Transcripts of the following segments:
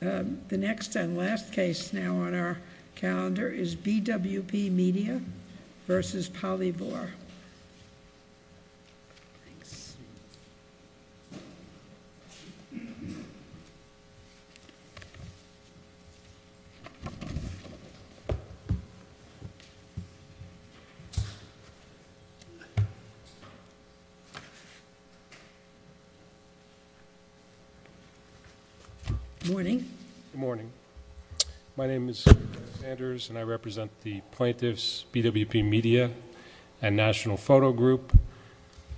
The next and last case now on our calendar is BWP Media vs. Polyvore. Good morning. Good morning. My name is Kenneth Sanders and I represent the Plaintiffs' BWP Media and National Photo Group.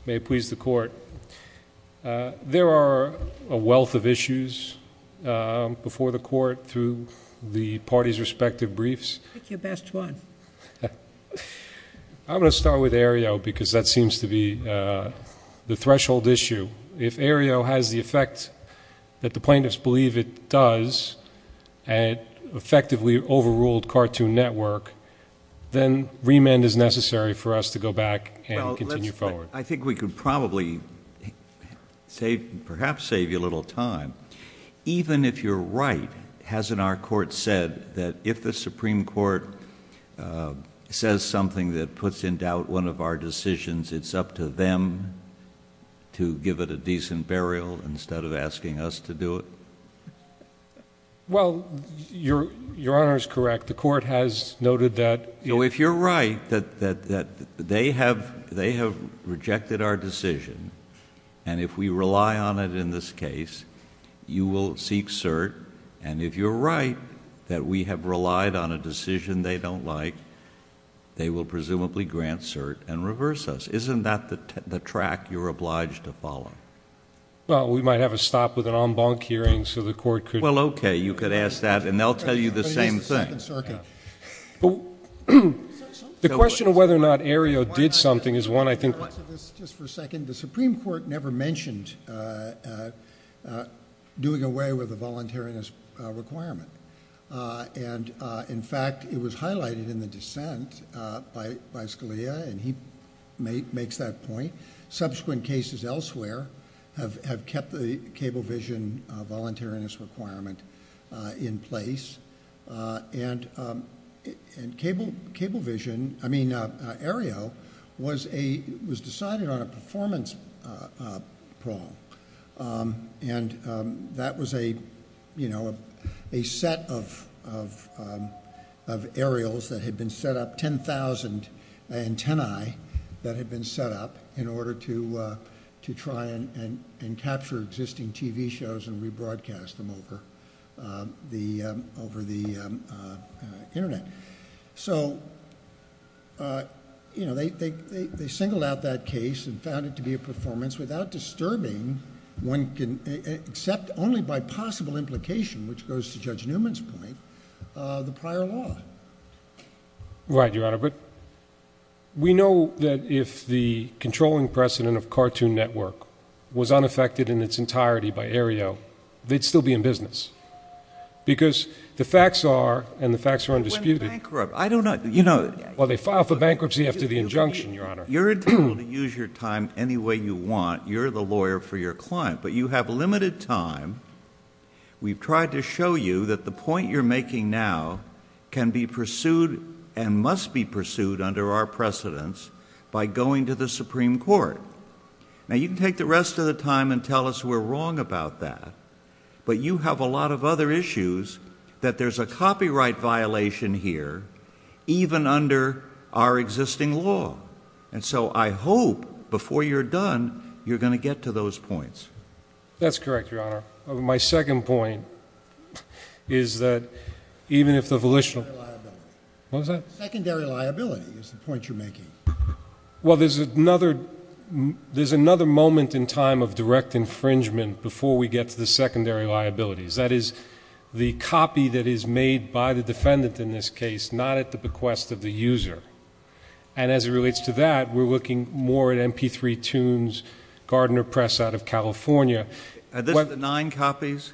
May it please the Court. There are a wealth of issues before the Court through the parties' respective briefs. Pick your best one. I'm going to start with Aereo because that seems to be the threshold issue. If Aereo has the effect that the Plaintiffs believe it does, an effectively overruled cartoon network, then remand is necessary for us to go back and continue forward. I think we could probably perhaps save you a little time. Even if you're right, hasn't our Court said that if the Supreme Court says something that puts in doubt one of our decisions, it's up to them to give it a decent burial instead of asking us to do it? Well, your Honor is correct. The Court has noted that... If you're right that they have rejected our decision, and if we rely on it in this case, you will seek cert. And if you're right that we have relied on a decision they don't like, they will presumably grant cert and reverse us. Isn't that the track you're obliged to follow? Well, we might have a stop with an en banc hearing so the Court could... Well, okay. You could ask that, and they'll tell you the same thing. The question of whether or not Aereo did something is one I think... Just for a second. The Supreme Court never mentioned doing away with a voluntariness requirement. And, in fact, it was highlighted in the dissent by Scalia, and he makes that point. Subsequent cases elsewhere have kept the Cablevision voluntariness requirement in place. And Cablevision... I mean Aereo was decided on a performance prong. And that was a set of aerials that had been set up, 10,000 antennae that had been set up in order to try and capture existing TV shows and rebroadcast them over. Over the Internet. So, you know, they singled out that case and found it to be a performance without disturbing one... except only by possible implication, which goes to Judge Newman's point, the prior law. Right, Your Honor. We know that if the controlling precedent of Cartoon Network was unaffected in its entirety by Aereo, they'd still be in business. Because the facts are, and the facts are undisputed... They went bankrupt. I don't know. You know... Well, they filed for bankruptcy after the injunction, Your Honor. You're entitled to use your time any way you want. You're the lawyer for your client. But, you have limited time. We've tried to show you that the point you're making now can be pursued and must be pursued under our precedence by going to the Supreme Court. Now, you can take the rest of the time and tell us we're wrong about that. But, you have a lot of other issues that there's a copyright violation here, even under our existing law. And so, I hope before you're done, you're going to get to those points. That's correct, Your Honor. My second point is that even if the volitional... Secondary liability. What was that? Secondary liability is the point you're making. Well, there's another moment in time of direct infringement before we get to the secondary liabilities. That is, the copy that is made by the defendant in this case, not at the bequest of the user. And, as it relates to that, we're looking more at MP3 tunes, Gardner Press out of California. Are this the nine copies?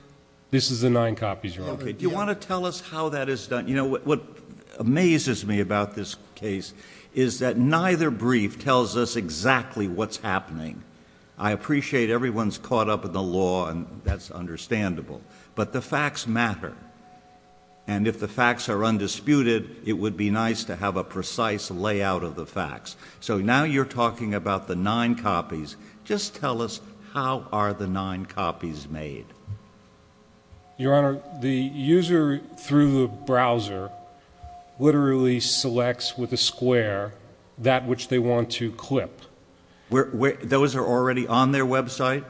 This is the nine copies, Your Honor. Do you want to tell us how that is done? You know, what amazes me about this case is that neither brief tells us exactly what's happening. I appreciate everyone's caught up in the law, and that's understandable. But, the facts matter. And, if the facts are undisputed, it would be nice to have a precise layout of the facts. So, now you're talking about the nine copies. Just tell us, how are the nine copies made? Your Honor, the user, through the browser, literally selects with a square that which they want to clip. Those are already on their website?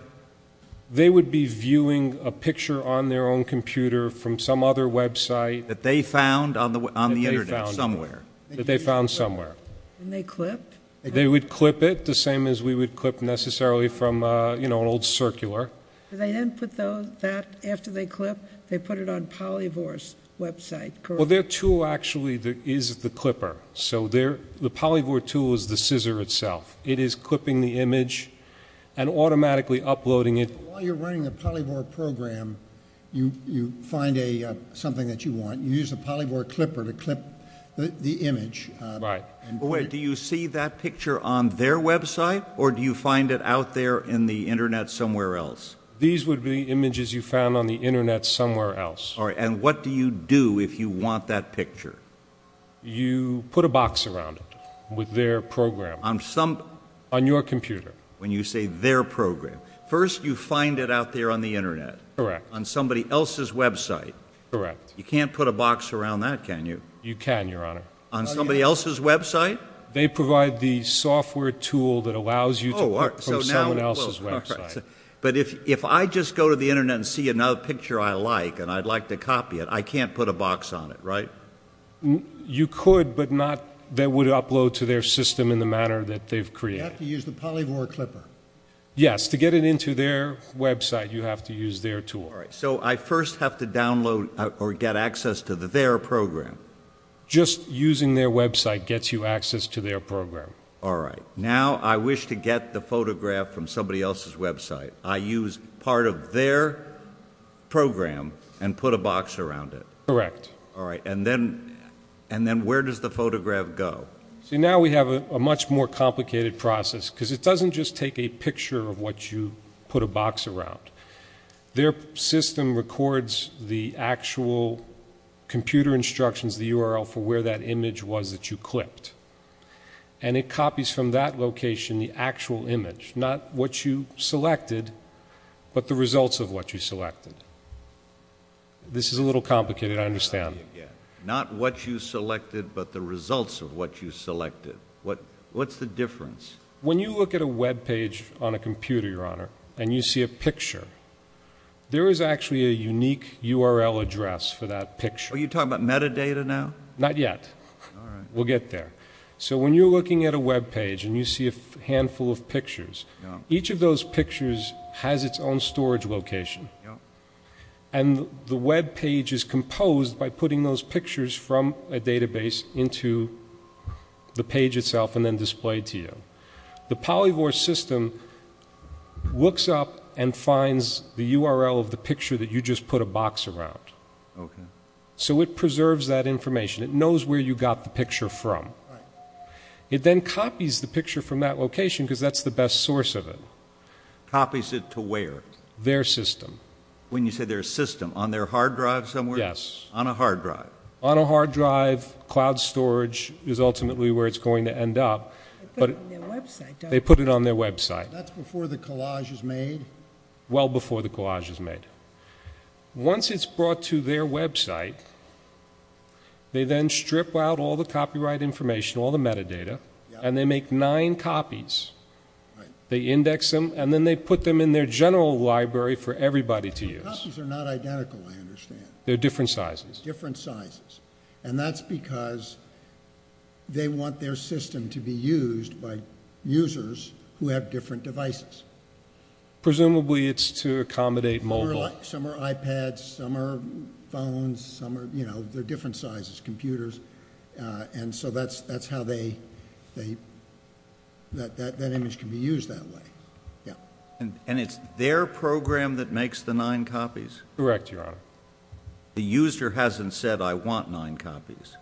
They would be viewing a picture on their own computer from some other website. That they found on the Internet somewhere? That they found somewhere. And they clipped? They would clip it, the same as we would clip necessarily from, you know, an old circular. They then put that, after they clip, they put it on Polyvore's website, correct? Well, their tool actually is the clipper. So, the Polyvore tool is the scissor itself. It is clipping the image and automatically uploading it. While you're running the Polyvore program, you find something that you want. You use the Polyvore clipper to clip the image. Right. Do you see that picture on their website, or do you find it out there in the Internet somewhere else? These would be images you found on the Internet somewhere else. And what do you do if you want that picture? You put a box around it with their program. On your computer. When you say their program. First, you find it out there on the Internet. Correct. On somebody else's website. Correct. You can't put a box around that, can you? You can, Your Honor. On somebody else's website? They provide the software tool that allows you to work from someone else's website. But if I just go to the Internet and see another picture I like and I'd like to copy it, I can't put a box on it, right? You could, but not that would upload to their system in the manner that they've created. You have to use the Polyvore clipper. Yes. To get it into their website, you have to use their tool. All right. So I first have to download or get access to their program. Just using their website gets you access to their program. All right. Now I wish to get the photograph from somebody else's website. I use part of their program and put a box around it. Correct. All right. And then where does the photograph go? See, now we have a much more complicated process because it doesn't just take a picture of what you put a box around. Their system records the actual computer instructions, the URL, for where that image was that you clipped. And it copies from that location the actual image, not what you selected, but the results of what you selected. This is a little complicated, I understand. Not what you selected, but the results of what you selected. What's the difference? When you look at a webpage on a computer, Your Honor, and you see a picture, there is actually a unique URL address for that picture. Are you talking about metadata now? Not yet. All right. We'll get there. So when you're looking at a webpage and you see a handful of pictures, each of those pictures has its own storage location. Yep. And the webpage is composed by putting those pictures from a database into the page itself and then displayed to you. The Polyvore system looks up and finds the URL of the picture that you just put a box around. Okay. So it preserves that information. It knows where you got the picture from. Right. It then copies the picture from that location because that's the best source of it. Copies it to where? Their system. When you say their system, on their hard drive somewhere? Yes. On a hard drive. On a hard drive, cloud storage is ultimately where it's going to end up. They put it on their website, don't they? They put it on their website. That's before the collage is made? Well before the collage is made. Once it's brought to their website, they then strip out all the copyright information, all the metadata, and they make nine copies. Right. They index them, and then they put them in their general library for everybody to use. The copies are not identical, I understand. They're different sizes. Different sizes. And that's because they want their system to be used by users who have different devices. Presumably it's to accommodate mobile. Some are iPads. Some are phones. They're different sizes. Computers. And so that's how that image can be used that way. And it's their program that makes the nine copies? Correct, Your Honor. The user hasn't said, I want nine copies.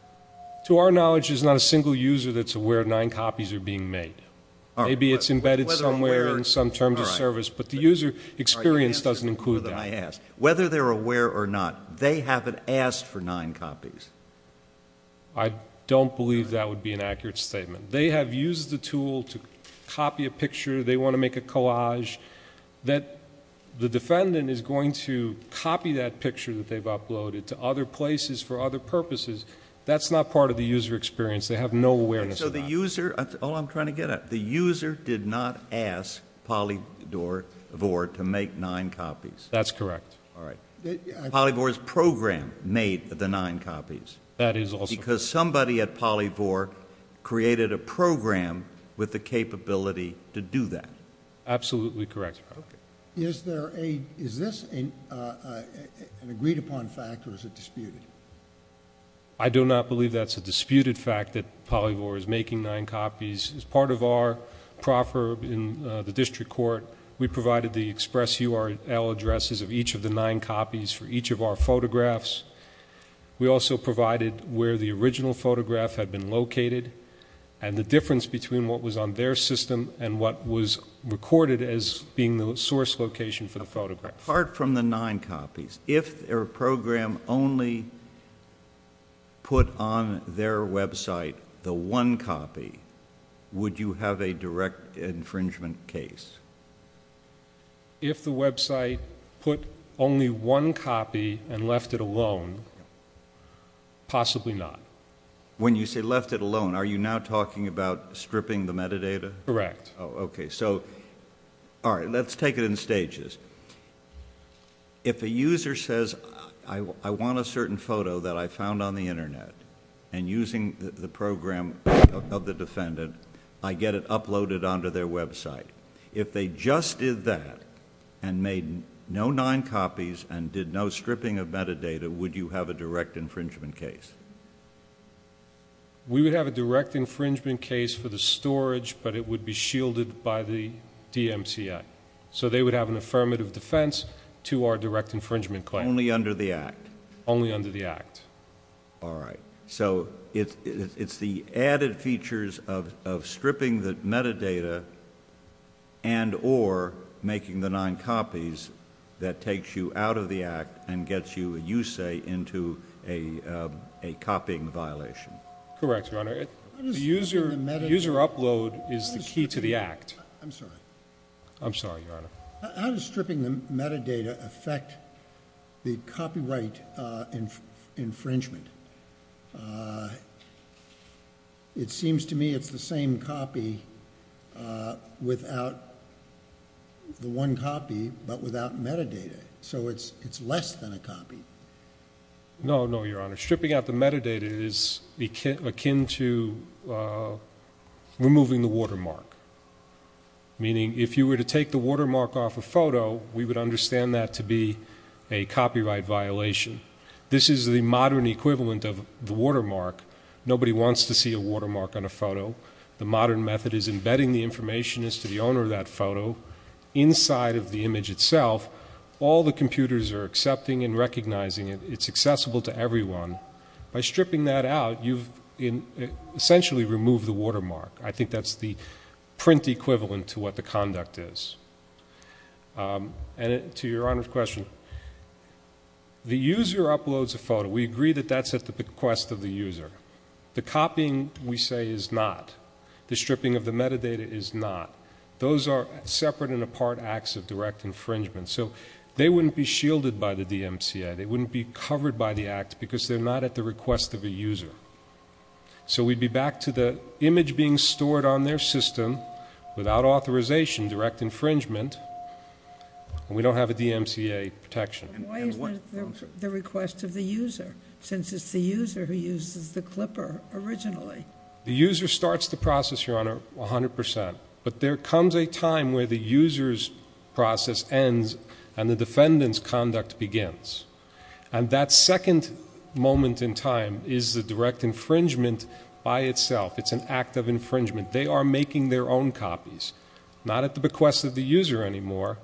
To our knowledge, there's not a single user that's aware nine copies are being made. Maybe it's embedded somewhere in some terms of service, but the user experience doesn't include that. Whether they're aware or not, they haven't asked for nine copies. I don't believe that would be an accurate statement. They have used the tool to copy a picture. They want to make a collage. The defendant is going to copy that picture that they've uploaded to other places for other purposes. That's not part of the user experience. They have no awareness of that. That's all I'm trying to get at. The user did not ask Polyvore to make nine copies. That's correct. All right. Polyvore's program made the nine copies. That is also correct. Because somebody at Polyvore created a program with the capability to do that. Absolutely correct, Your Honor. Is this an agreed upon fact or is it disputed? I do not believe that's a disputed fact that Polyvore is making nine copies. As part of our proffer in the district court, we provided the express URL addresses of each of the nine copies for each of our photographs. We also provided where the original photograph had been located and the difference between what was on their system and what was recorded as being the source location for the photograph. Apart from the nine copies, if their program only put on their website the one copy, would you have a direct infringement case? If the website put only one copy and left it alone, possibly not. When you say left it alone, are you now talking about stripping the metadata? Correct. Okay. All right. Let's take it in stages. If a user says, I want a certain photo that I found on the Internet and using the program of the defendant, I get it uploaded onto their website. If they just did that and made no nine copies and did no stripping of metadata, would you have a direct infringement case? We would have a direct infringement case for the storage, but it would be shielded by the DMCA. So they would have an affirmative defense to our direct infringement claim. Only under the Act? Only under the Act. All right. So it's the added features of stripping the metadata and or making the nine copies that takes you out of the Act Correct, Your Honor. The user upload is the key to the Act. I'm sorry. I'm sorry, Your Honor. How does stripping the metadata affect the copyright infringement? It seems to me it's the same copy without the one copy but without metadata. So it's less than a copy. No, no, Your Honor. Stripping out the metadata is akin to removing the watermark, meaning if you were to take the watermark off a photo, we would understand that to be a copyright violation. This is the modern equivalent of the watermark. Nobody wants to see a watermark on a photo. The modern method is embedding the information as to the owner of that photo inside of the image itself. All the computers are accepting and recognizing it. It's accessible to everyone. By stripping that out, you've essentially removed the watermark. I think that's the print equivalent to what the conduct is. And to Your Honor's question, the user uploads a photo. We agree that that's at the bequest of the user. The copying, we say, is not. The stripping of the metadata is not. Those are separate and apart acts of direct infringement. So they wouldn't be shielded by the DMCA. They wouldn't be covered by the act because they're not at the request of a user. So we'd be back to the image being stored on their system without authorization, direct infringement, and we don't have a DMCA protection. Why isn't it at the request of the user, since it's the user who uses the clipper originally? The user starts the process, Your Honor, 100%. But there comes a time where the user's process ends and the defendant's conduct begins. And that second moment in time is the direct infringement by itself. It's an act of infringement. They are making their own copies, not at the bequest of the user anymore,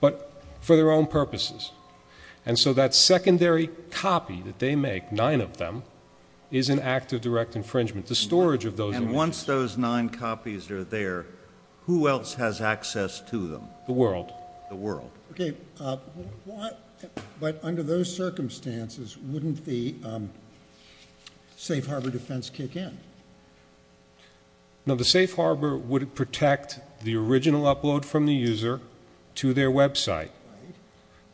but for their own purposes. And so that secondary copy that they make, nine of them, is an act of direct infringement, the storage of those images. And once those nine copies are there, who else has access to them? The world. The world. Okay. But under those circumstances, wouldn't the Safe Harbor defense kick in? No, the Safe Harbor would protect the original upload from the user to their website.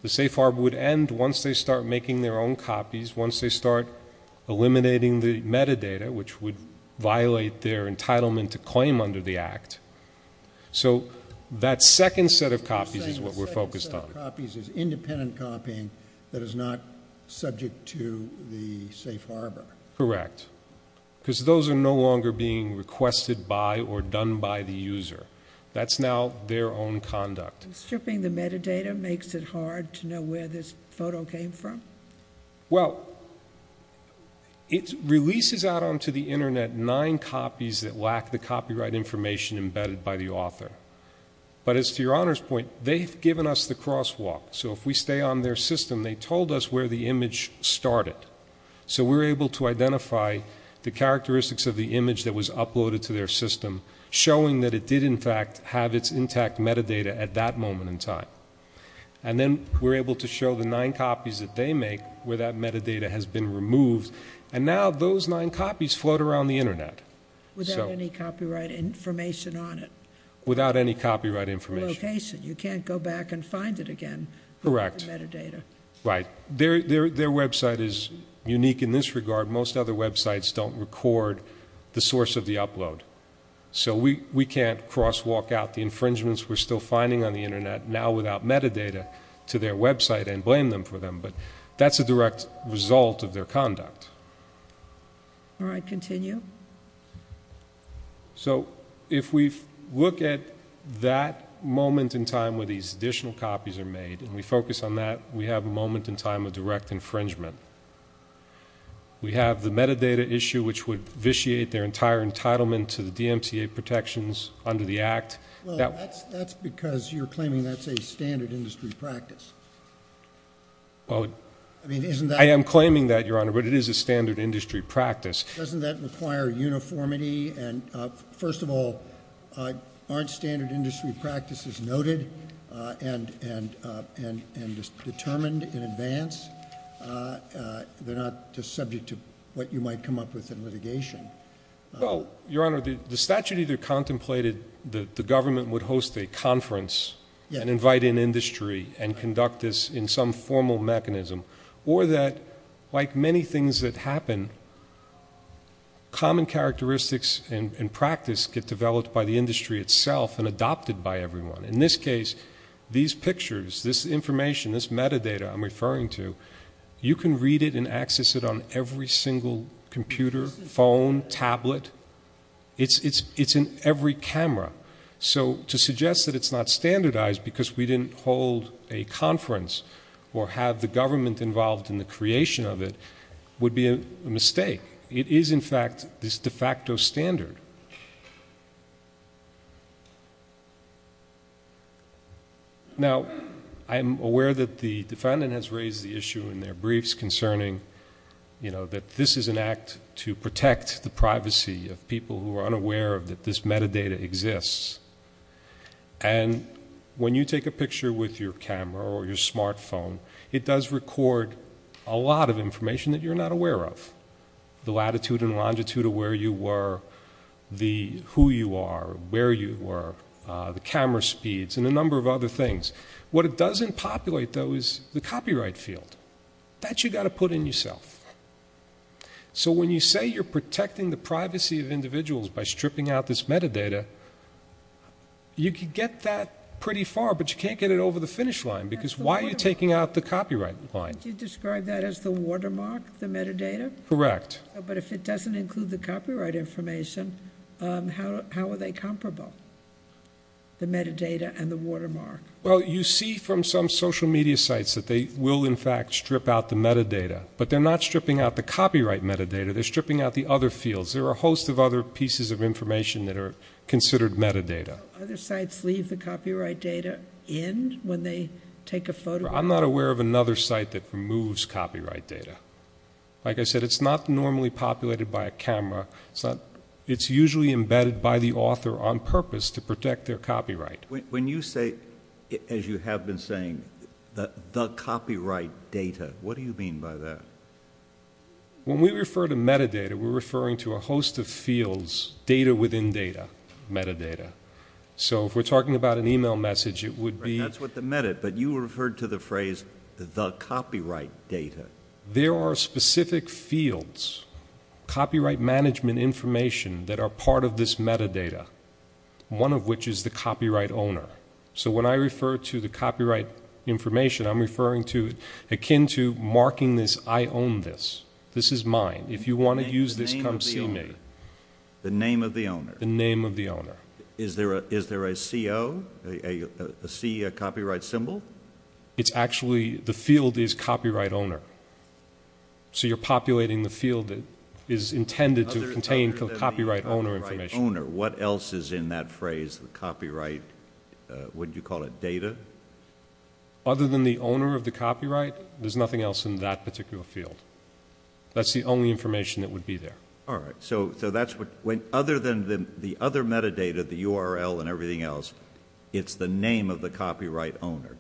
The Safe Harbor would end once they start making their own copies, once they start eliminating the metadata, which would violate their entitlement to claim under the act. So that second set of copies is what we're focused on. The second set of copies is independent copying that is not subject to the Safe Harbor. Correct. Because those are no longer being requested by or done by the user. That's now their own conduct. Stripping the metadata makes it hard to know where this photo came from? Well, it releases out onto the Internet nine copies that lack the copyright information embedded by the author. But as to your Honor's point, they've given us the crosswalk. So if we stay on their system, they told us where the image started. So we're able to identify the characteristics of the image that was uploaded to their system, showing that it did, in fact, have its intact metadata at that moment in time. And then we're able to show the nine copies that they make where that metadata has been removed. And now those nine copies float around the Internet. Without any copyright information on it? Without any copyright information. You can't go back and find it again? Correct. Without the metadata? Right. Their website is unique in this regard. Most other websites don't record the source of the upload. So we can't crosswalk out the infringements we're still finding on the Internet, now without metadata, to their website and blame them for them. But that's a direct result of their conduct. All right, continue. So if we look at that moment in time where these additional copies are made, and we focus on that, we have a moment in time of direct infringement. We have the metadata issue, which would vitiate their entire entitlement to the DMCA protections under the Act. Well, that's because you're claiming that's a standard industry practice. I am claiming that, Your Honor, but it is a standard industry practice. Doesn't that require uniformity? And, first of all, aren't standard industry practices noted and determined in advance? They're not just subject to what you might come up with in litigation. Well, Your Honor, the statute either contemplated that the government would host a conference and invite in industry and conduct this in some formal mechanism, or that, like many things that happen, common characteristics and practice get developed by the industry itself and adopted by everyone. In this case, these pictures, this information, this metadata I'm referring to, you can read it and access it on every single computer, phone, tablet. It's in every camera. So to suggest that it's not standardized because we didn't hold a conference or have the government involved in the creation of it would be a mistake. It is, in fact, this de facto standard. Now, I am aware that the defendant has raised the issue in their briefs concerning that this is an act to protect the privacy of people who are unaware that this metadata exists. And when you take a picture with your camera or your smartphone, it does record a lot of information that you're not aware of, the latitude and longitude of where you were, who you are, where you were, the camera speeds, and a number of other things. What it doesn't populate, though, is the copyright field. That you've got to put in yourself. So when you say you're protecting the privacy of individuals by stripping out this metadata, you can get that pretty far, but you can't get it over the finish line because why are you taking out the copyright line? Don't you describe that as the watermark, the metadata? Correct. But if it doesn't include the copyright information, how are they comparable, the metadata and the watermark? Well, you see from some social media sites that they will, in fact, strip out the metadata, but they're not stripping out the copyright metadata. They're stripping out the other fields. There are a host of other pieces of information that are considered metadata. Do other sites leave the copyright data in when they take a photo? I'm not aware of another site that removes copyright data. Like I said, it's not normally populated by a camera. It's usually embedded by the author on purpose to protect their copyright. When you say, as you have been saying, the copyright data, what do you mean by that? When we refer to metadata, we're referring to a host of fields, data within data, metadata. So if we're talking about an e-mail message, it would be... The copyright data. There are specific fields, copyright management information, that are part of this metadata, one of which is the copyright owner. So when I refer to the copyright information, I'm referring to akin to marking this, I own this. This is mine. If you want to use this, come see me. The name of the owner. The name of the owner. Is there a CO, a C, a copyright symbol? It's actually, the field is copyright owner. So you're populating the field that is intended to contain copyright owner information. Other than the copyright owner, what else is in that phrase, the copyright, would you call it data? Other than the owner of the copyright, there's nothing else in that particular field. That's the only information that would be there. All right. Other than the other metadata, the URL and everything else, it's the name of the copyright owner.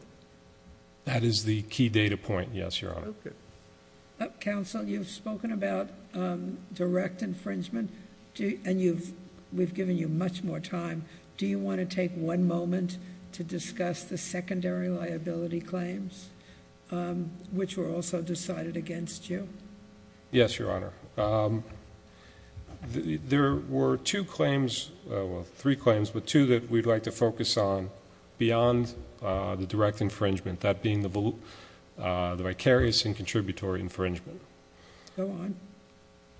That is the key data point, yes, Your Honor. Counsel, you've spoken about direct infringement, and we've given you much more time. Do you want to take one moment to discuss the secondary liability claims, which were also decided against you? Yes, Your Honor. There were two claims, well, three claims, but two that we'd like to focus on beyond the direct infringement, that being the vicarious and contributory infringement. Go on.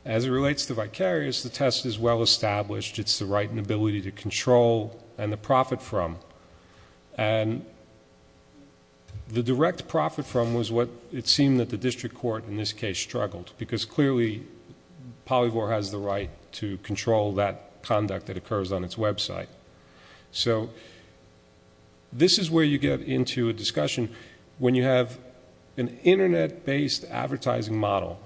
As it relates to vicarious, the test is well-established. It's the right and ability to control and the profit from. The direct profit from was what it seemed that the district court in this case struggled, because clearly Polyvore has the right to control that conduct that occurs on its website. This is where you get into a discussion when you have an Internet-based advertising model,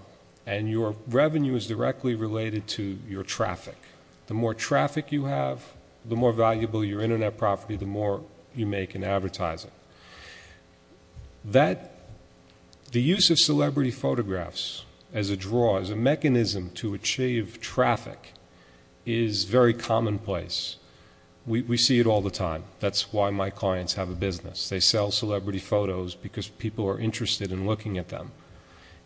and your revenue is directly related to your traffic. The more traffic you have, the more valuable your Internet property, the more you make in advertising. The use of celebrity photographs as a draw, as a mechanism to achieve traffic, is very commonplace. We see it all the time. That's why my clients have a business. They sell celebrity photos because people are interested in looking at them.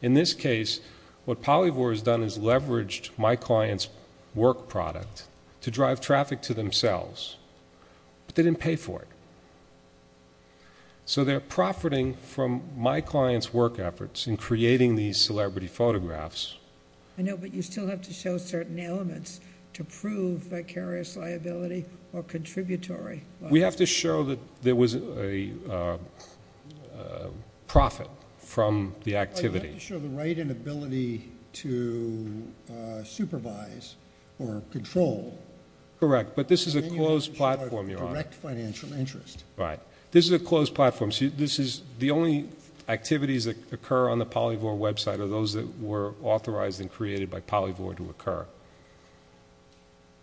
In this case, what Polyvore has done is leveraged my client's work product to drive traffic to themselves, but they didn't pay for it. So they're profiting from my client's work efforts in creating these celebrity photographs. I know, but you still have to show certain elements to prove vicarious liability or contributory liability. We have to show that there was a profit from the activity. You have to show the right and ability to supervise or control. Correct. But this is a closed platform, Your Honor. Direct financial interest. Right. This is a closed platform. The only activities that occur on the Polyvore website are those that were authorized and created by Polyvore to occur.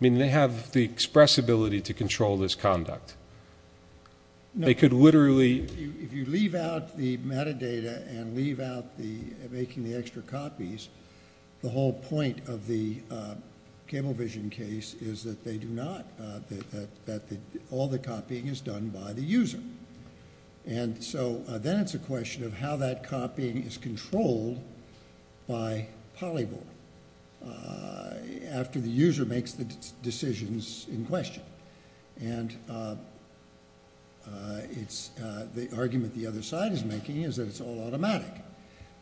I mean, they have the expressibility to control this conduct. No. They could literally. If you leave out the metadata and leave out making the extra copies, the whole point of the cable vision case is that they do not, that all the copying is done by the user. And so then it's a question of how that copying is controlled by Polyvore after the user makes the decisions in question. And the argument the other side is making is that it's all automatic,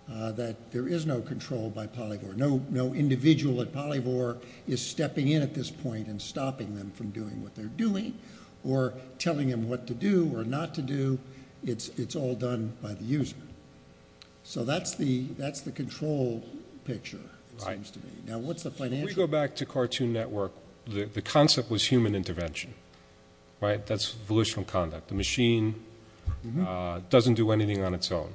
that there is no control by Polyvore. No individual at Polyvore is stepping in at this point and stopping them from doing what they're doing or telling them what to do or not to do. It's all done by the user. So that's the control picture, it seems to me. Now, what's the financial? If we go back to Cartoon Network, the concept was human intervention. That's volitional conduct. The machine doesn't do anything on its own.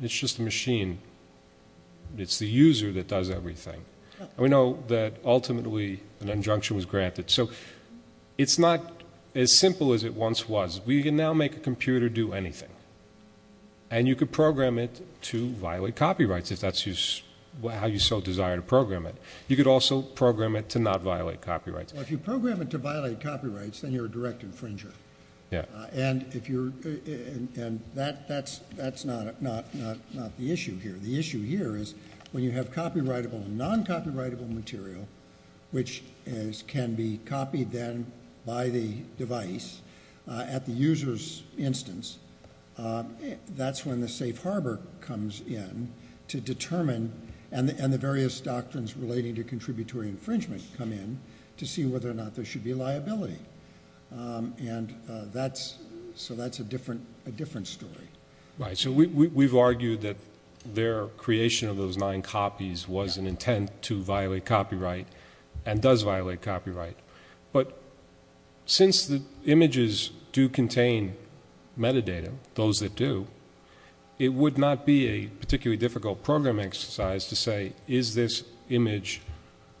It's just a machine. It's the user that does everything. We know that ultimately an injunction was granted. So it's not as simple as it once was. We can now make a computer do anything, and you could program it to violate copyrights if that's how you so desire to program it. You could also program it to not violate copyrights. Well, if you program it to violate copyrights, then you're a direct infringer. Yeah. And that's not the issue here. The issue here is when you have copyrightable and non-copyrightable material, which can be copied then by the device at the user's instance, that's when the safe harbor comes in to determine and the various doctrines relating to contributory infringement come in to see whether or not there should be liability. And so that's a different story. Right. So we've argued that their creation of those nine copies was an intent to violate copyright and does violate copyright. But since the images do contain metadata, those that do, it would not be a particularly difficult program exercise to say, is this image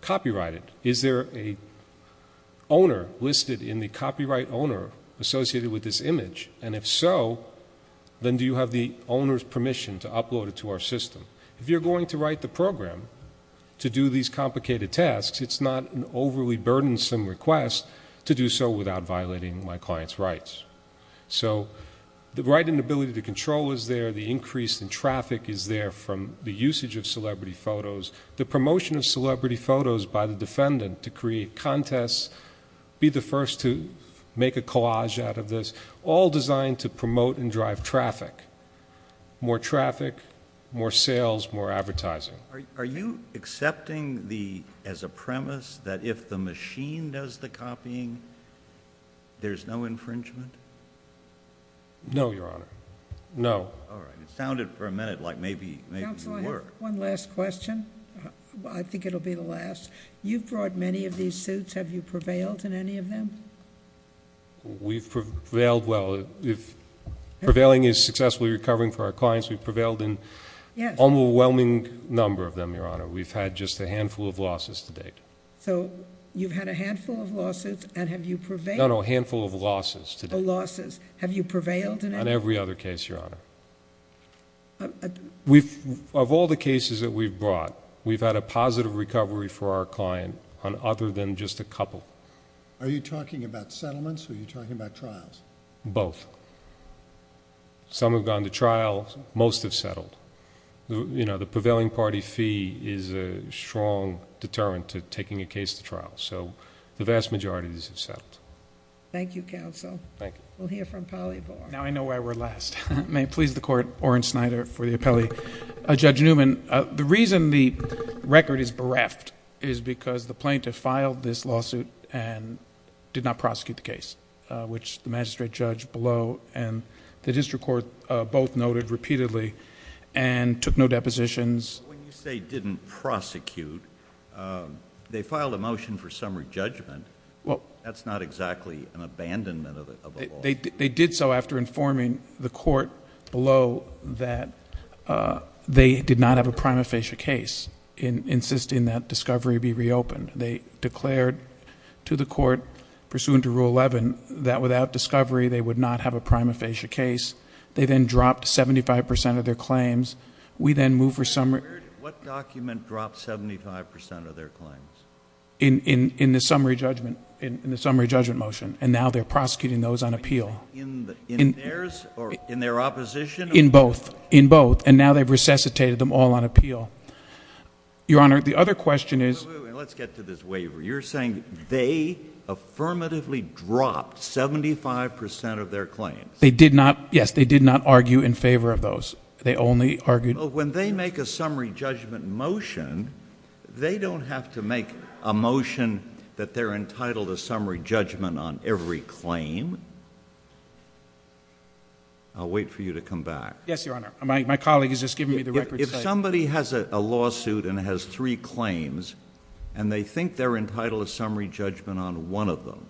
copyrighted? Is there an owner listed in the copyright owner associated with this image? And if so, then do you have the owner's permission to upload it to our system? If you're going to write the program to do these complicated tasks, it's not an overly burdensome request to do so without violating my client's rights. So the right and ability to control is there. The increase in traffic is there from the usage of celebrity photos. The promotion of celebrity photos by the defendant to create contests, be the first to make a collage out of this, all designed to promote and drive traffic. More traffic, more sales, more advertising. Are you accepting as a premise that if the machine does the copying, there's no infringement? No, Your Honor. No. All right. It sounded for a minute like maybe you were. So I have one last question. I think it will be the last. You've brought many of these suits. Have you prevailed in any of them? We've prevailed well. If prevailing is successfully recovering for our clients, we've prevailed in an overwhelming number of them, Your Honor. We've had just a handful of losses to date. So you've had a handful of lawsuits and have you prevailed? No, no, a handful of losses to date. Oh, losses. Have you prevailed in any? On every other case, Your Honor. Of all the cases that we've brought, we've had a positive recovery for our client on other than just a couple. Are you talking about settlements or are you talking about trials? Both. Some have gone to trial. Most have settled. You know, the prevailing party fee is a strong deterrent to taking a case to trial. So the vast majority of these have settled. Thank you, counsel. Thank you. We'll hear from Polyvore. Now I know why we're last. May it please the Court, Orrin Snyder for the appellee. Judge Newman, the reason the record is bereft is because the plaintiff filed this lawsuit and did not prosecute the case, which the magistrate judge below and the district court both noted repeatedly and took no depositions. When you say didn't prosecute, they filed a motion for summary judgment. That's not exactly an abandonment of the law. They did so after informing the court below that they did not have a prima facie case, insisting that discovery be reopened. They declared to the court pursuant to Rule 11 that without discovery they would not have a prima facie case. They then dropped 75 percent of their claims. We then moved for summary. What document dropped 75 percent of their claims? In the summary judgment motion. And now they're prosecuting those on appeal. In theirs or in their opposition? In both. In both. And now they've resuscitated them all on appeal. Your Honor, the other question is. Let's get to this waiver. You're saying they affirmatively dropped 75 percent of their claims. They did not. Yes, they did not argue in favor of those. They only argued. When they make a summary judgment motion, they don't have to make a motion that they're entitled to summary judgment on every claim. I'll wait for you to come back. Yes, Your Honor. My colleague is just giving me the record. If somebody has a lawsuit and has three claims, and they think they're entitled to summary judgment on one of them,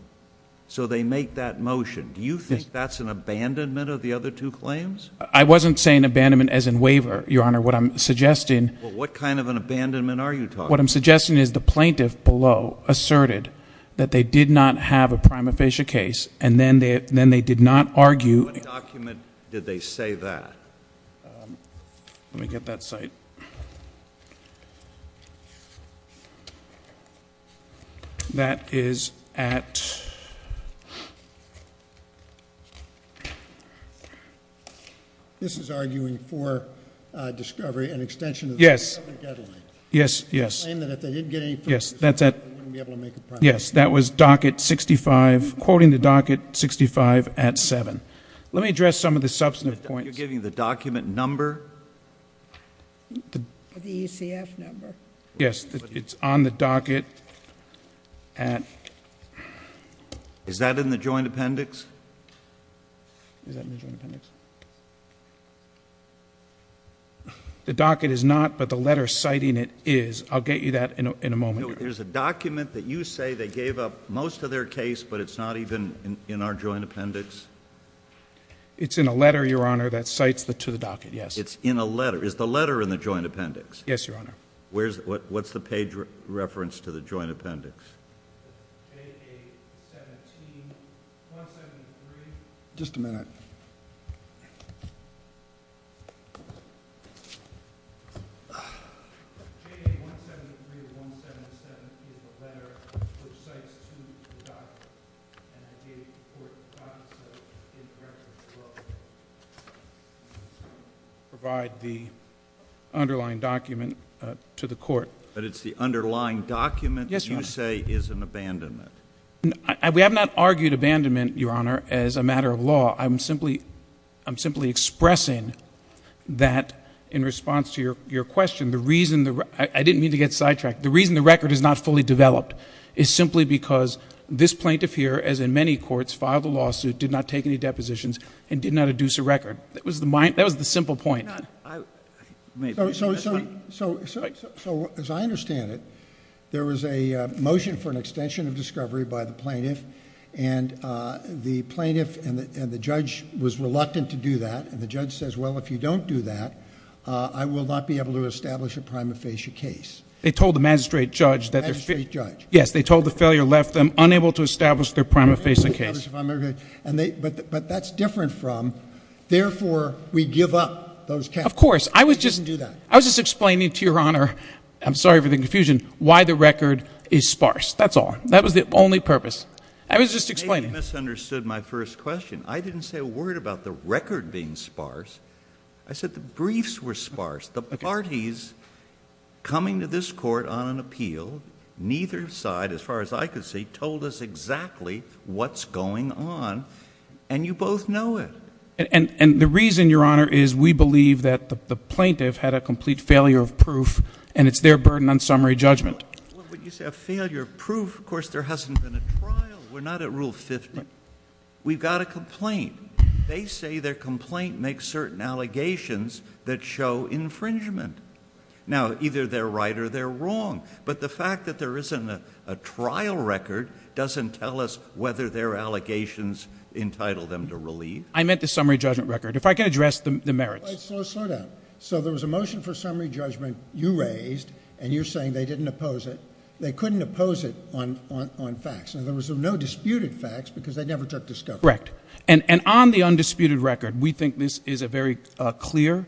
so they make that motion. Do you think that's an abandonment of the other two claims? I wasn't saying abandonment as in waiver, Your Honor. What I'm suggesting. Well, what kind of an abandonment are you talking about? What I'm suggesting is the plaintiff below asserted that they did not have a prima facie case, and then they did not argue. What document did they say that? Let me get that cite. Let me get that cite. That is at. This is arguing for discovery and extension. Yes. Yes, yes. Yes, that's at. Yes, that was docket 65, quoting the docket 65 at 7. Let me address some of the substantive points. You're giving the document number? The ECF number. Yes, it's on the docket at. Is that in the joint appendix? Is that in the joint appendix? The docket is not, but the letter citing it is. I'll get you that in a moment. There's a document that you say they gave up most of their case, but it's not even in our joint appendix? It's in a letter, Your Honor, that cites to the docket, yes. It's in a letter. Is the letter in the joint appendix? Yes, Your Honor. What's the page reference to the joint appendix? J.A. 173, 173. Just a minute. J.A. 173, 177 is a letter which cites to the docket. And I gave the court the docket, so incorrect as well. Provide the underlying document to the court. But it's the underlying document? Yes, Your Honor. That you say is an abandonment? We have not argued abandonment, Your Honor, as a matter of law. I'm simply expressing that in response to your question, the reason the record is not fully developed is simply because this plaintiff here, as in many courts, filed a lawsuit, did not take any depositions, and did not adduce a record. That was the simple point. So as I understand it, there was a motion for an extension of discovery by the plaintiff, and the plaintiff and the judge was reluctant to do that, and the judge says, well, if you don't do that, I will not be able to establish a prima facie case. They told the magistrate judge that... The magistrate judge. Yes, they told the failure left them unable to establish their prima facie case. But that's different from, therefore, we give up those cases. Of course. I was just explaining to Your Honor, I'm sorry for the confusion, why the record is sparse. That's all. That was the only purpose. I was just explaining. You misunderstood my first question. I didn't say a word about the record being sparse. I said the briefs were sparse. The parties coming to this court on an appeal, neither side, as far as I could see, told us exactly what's going on, and you both know it. And the reason, Your Honor, is we believe that the plaintiff had a complete failure of proof, and it's their burden on summary judgment. When you say a failure of proof, of course there hasn't been a trial. We're not at Rule 50. We've got a complaint. They say their complaint makes certain allegations that show infringement. Now, either they're right or they're wrong. But the fact that there isn't a trial record doesn't tell us whether their allegations entitle them to relief. I meant the summary judgment record. If I could address the merits. Slow down. So there was a motion for summary judgment you raised, and you're saying they didn't oppose it. They couldn't oppose it on facts. There was no disputed facts because they never took discovery. That's correct. And on the undisputed record, we think this is a very clear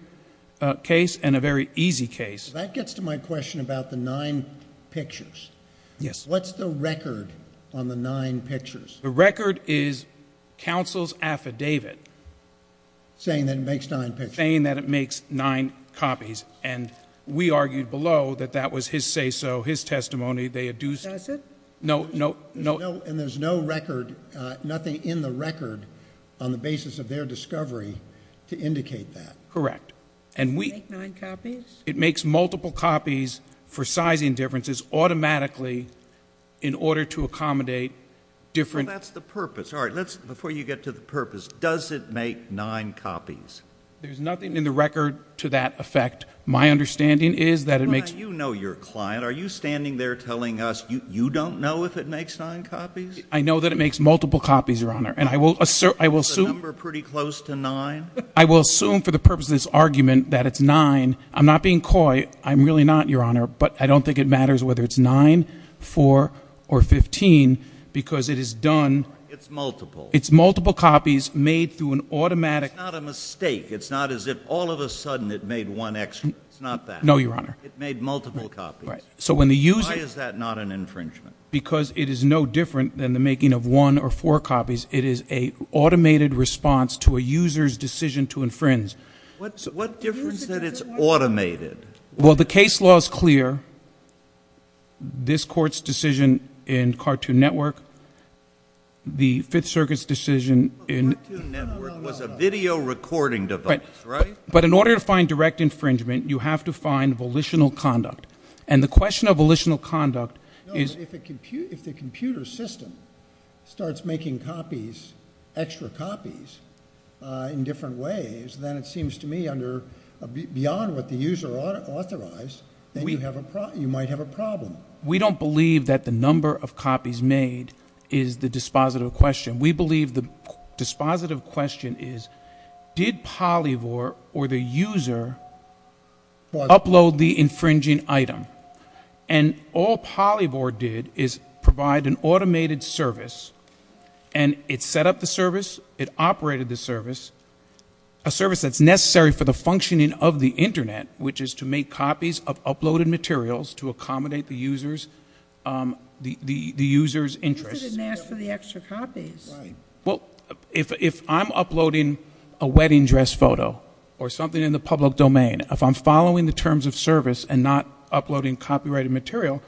case and a very easy case. That gets to my question about the nine pictures. Yes. What's the record on the nine pictures? The record is counsel's affidavit. Saying that it makes nine pictures. Saying that it makes nine copies. And we argued below that that was his say-so, his testimony. That's it? No. And there's no record, nothing in the record on the basis of their discovery to indicate that. Correct. Does it make nine copies? It makes multiple copies for sizing differences automatically in order to accommodate different. Well, that's the purpose. All right. Before you get to the purpose, does it make nine copies? There's nothing in the record to that effect. My understanding is that it makes. You know your client. Are you standing there telling us you don't know if it makes nine copies? I know that it makes multiple copies, Your Honor. And I will assume. Is the number pretty close to nine? I will assume for the purpose of this argument that it's nine. I'm not being coy. I'm really not, Your Honor. But I don't think it matters whether it's nine, four, or 15 because it is done. It's multiple. It's multiple copies made through an automatic. It's not a mistake. It's not as if all of a sudden it made one extra. It's not that. No, Your Honor. It made multiple copies. Why is that not an infringement? Because it is no different than the making of one or four copies. It is an automated response to a user's decision to infringe. What difference does it make that it's automated? Well, the case law is clear. This Court's decision in Cartoon Network, the Fifth Circuit's decision in – Cartoon Network was a video recording device, right? But in order to find direct infringement, you have to find volitional conduct. And the question of volitional conduct is – No, but if the computer system starts making copies, extra copies, in different ways, then it seems to me beyond what the user authorized that you might have a problem. We don't believe that the number of copies made is the dispositive question. We believe the dispositive question is, did Polyvore or the user upload the infringing item? And all Polyvore did is provide an automated service, and it set up the service, it operated the service, a service that's necessary for the functioning of the Internet, which is to make copies of uploaded materials to accommodate the user's interests. But the user didn't ask for the extra copies. Well, if I'm uploading a wedding dress photo or something in the public domain, if I'm following the terms of service and not uploading copyrighted material,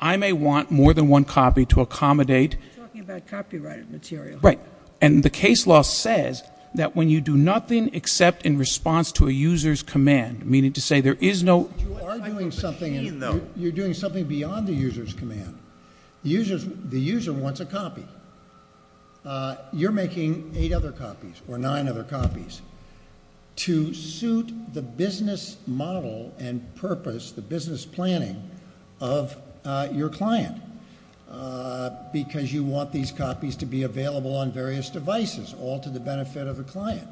I may want more than one copy to accommodate – You're talking about copyrighted material. Right. And the case law says that when you do nothing except in response to a user's command, meaning to say there is no – But you are doing something – you're doing something beyond the user's command. The user wants a copy. You're making eight other copies or nine other copies to suit the business model and purpose, the business planning of your client, because you want these copies to be available on various devices, all to the benefit of the client.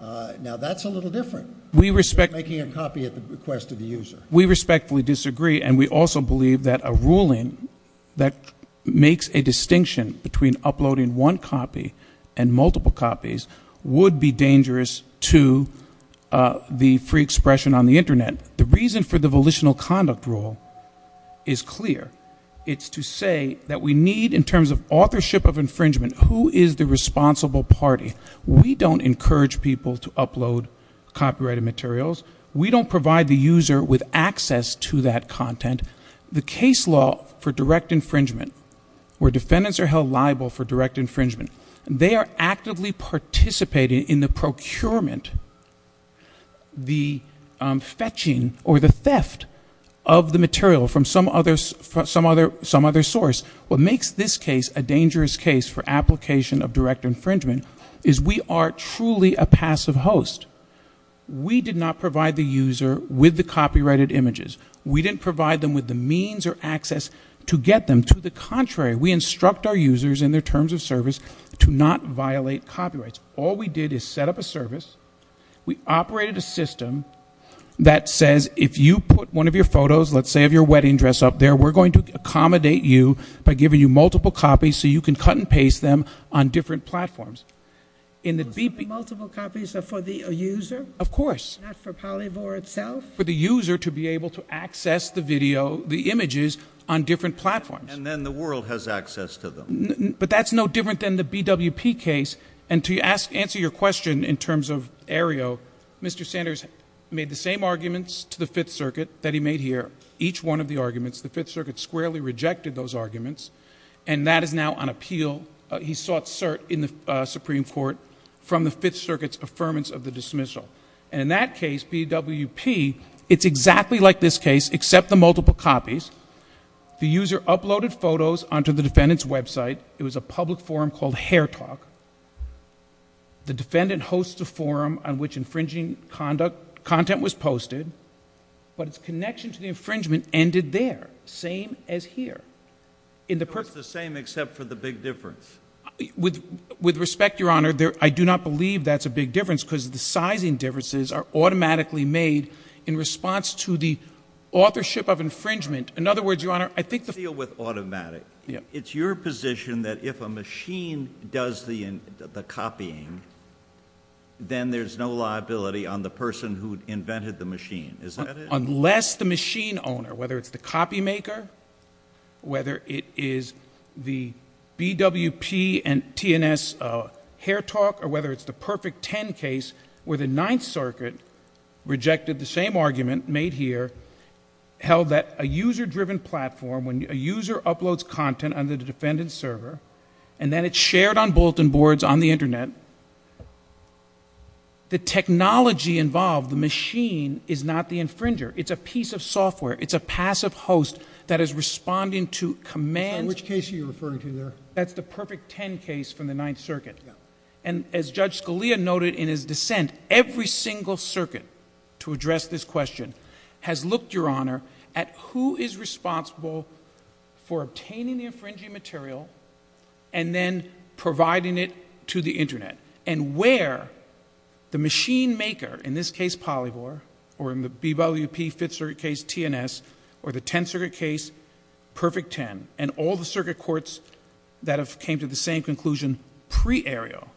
Now, that's a little different than making a copy at the request of the user. We respectfully disagree, and we also believe that a ruling that makes a distinction between uploading one copy and multiple copies would be dangerous to the free expression on the Internet. The reason for the volitional conduct rule is clear. It's to say that we need, in terms of authorship of infringement, who is the responsible party. We don't provide the user with access to that content. The case law for direct infringement, where defendants are held liable for direct infringement, they are actively participating in the procurement, the fetching or the theft of the material from some other source. What makes this case a dangerous case for application of direct infringement is we are truly a passive host. We did not provide the user with the copyrighted images. We didn't provide them with the means or access to get them. To the contrary, we instruct our users in their terms of service to not violate copyrights. All we did is set up a service. We operated a system that says if you put one of your photos, let's say of your wedding dress up there, we're going to accommodate you by giving you multiple copies so you can cut and paste them on different platforms. Multiple copies are for the user? Of course. Not for Polyvore itself? For the user to be able to access the video, the images, on different platforms. And then the world has access to them. But that's no different than the BWP case. And to answer your question in terms of Aereo, Mr. Sanders made the same arguments to the Fifth Circuit that he made here. Each one of the arguments, the Fifth Circuit squarely rejected those arguments, and that is now on appeal. He sought cert in the Supreme Court from the Fifth Circuit's affirmance of the dismissal. And in that case, BWP, it's exactly like this case except the multiple copies. The user uploaded photos onto the defendant's website. It was a public forum called Hairtalk. The defendant hosts a forum on which infringing content was posted, but its connection to the infringement ended there, same as here. So it's the same except for the big difference? With respect, Your Honor, I do not believe that's a big difference because the sizing differences are automatically made in response to the authorship of infringement. In other words, Your Honor, I think the— Let's deal with automatic. It's your position that if a machine does the copying, then there's no liability on the person who invented the machine. Is that it? Unless the machine owner, whether it's the copymaker, whether it is the BWP and TNS Hairtalk, or whether it's the Perfect Ten case where the Ninth Circuit rejected the same argument made here, held that a user-driven platform, when a user uploads content on the defendant's server and then it's shared on bulletin boards on the Internet, the technology involved, the machine, is not the infringer. It's a piece of software. It's a passive host that is responding to commands— Which case are you referring to there? That's the Perfect Ten case from the Ninth Circuit. And as Judge Scalia noted in his dissent, every single circuit to address this question has looked, Your Honor, at who is responsible for obtaining the infringing material and then providing it to the Internet. And where the machine maker, in this case, Polyvore, or in the BWP Fifth Circuit case, TNS, or the Tenth Circuit case, Perfect Ten, and all the circuit courts that have came to the same conclusion pre-ARIO,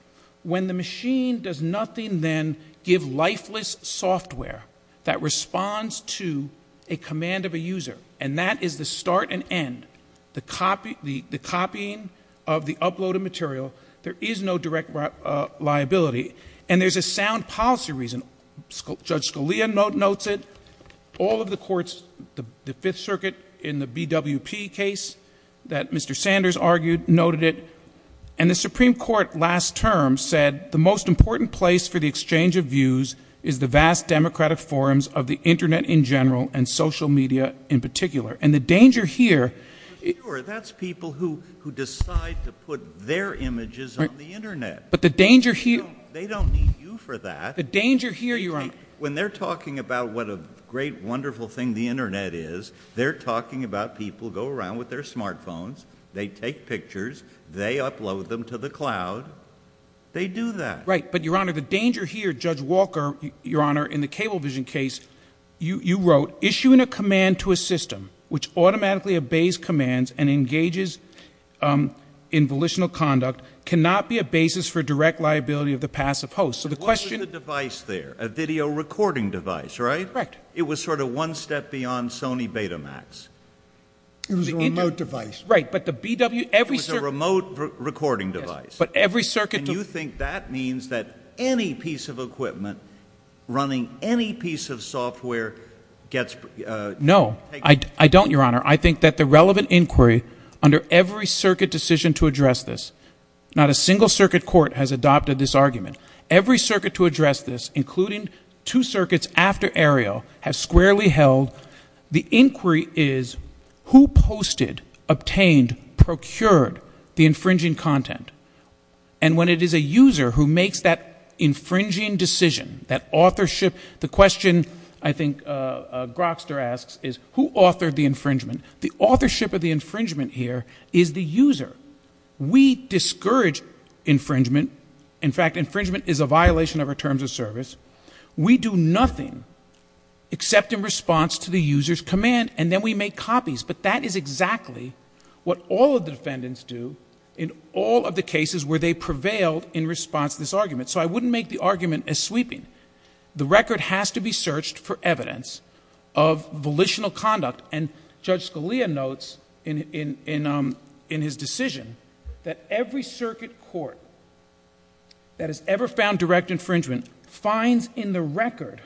when the machine does nothing, then, give lifeless software that responds to a command of a user, and that is the start and end, the copying of the uploaded material. There is no direct liability. And there's a sound policy reason. Judge Scalia notes it. All of the courts, the Fifth Circuit in the BWP case that Mr. Sanders argued, noted it. And the Supreme Court last term said, the most important place for the exchange of views is the vast democratic forums of the Internet in general and social media in particular. And the danger here— But, Your Honor, that's people who decide to put their images on the Internet. But the danger here— They don't need you for that. The danger here, Your Honor— When they're talking about what a great, wonderful thing the Internet is, they're talking about people go around with their smartphones, they take pictures, they upload them to the cloud, they do that. Right. But, Your Honor, the danger here, Judge Walker, Your Honor, in the Cablevision case, you wrote, issuing a command to a system which automatically obeys commands and engages in volitional conduct cannot be a basis for direct liability of the passive host. So the question— What was the device there? A video recording device, right? Correct. It was sort of one step beyond Sony Betamax. It was a remote device. Right, but the BW— It was a remote recording device. But every circuit— And you think that means that any piece of equipment running any piece of software gets— No, I don't, Your Honor. I think that the relevant inquiry under every circuit decision to address this— not a single circuit court has adopted this argument. Every circuit to address this, including two circuits after Ariel, has squarely held the inquiry is, who posted, obtained, procured the infringing content? And when it is a user who makes that infringing decision, that authorship, the question I think Grokster asks is, who authored the infringement? The authorship of the infringement here is the user. We discourage infringement. In fact, infringement is a violation of our terms of service. We do nothing except in response to the user's command, and then we make copies. But that is exactly what all of the defendants do in all of the cases where they prevailed in response to this argument. So I wouldn't make the argument as sweeping. The record has to be searched for evidence of volitional conduct. And Judge Scalia notes in his decision that every circuit court that has ever found direct infringement finds in the record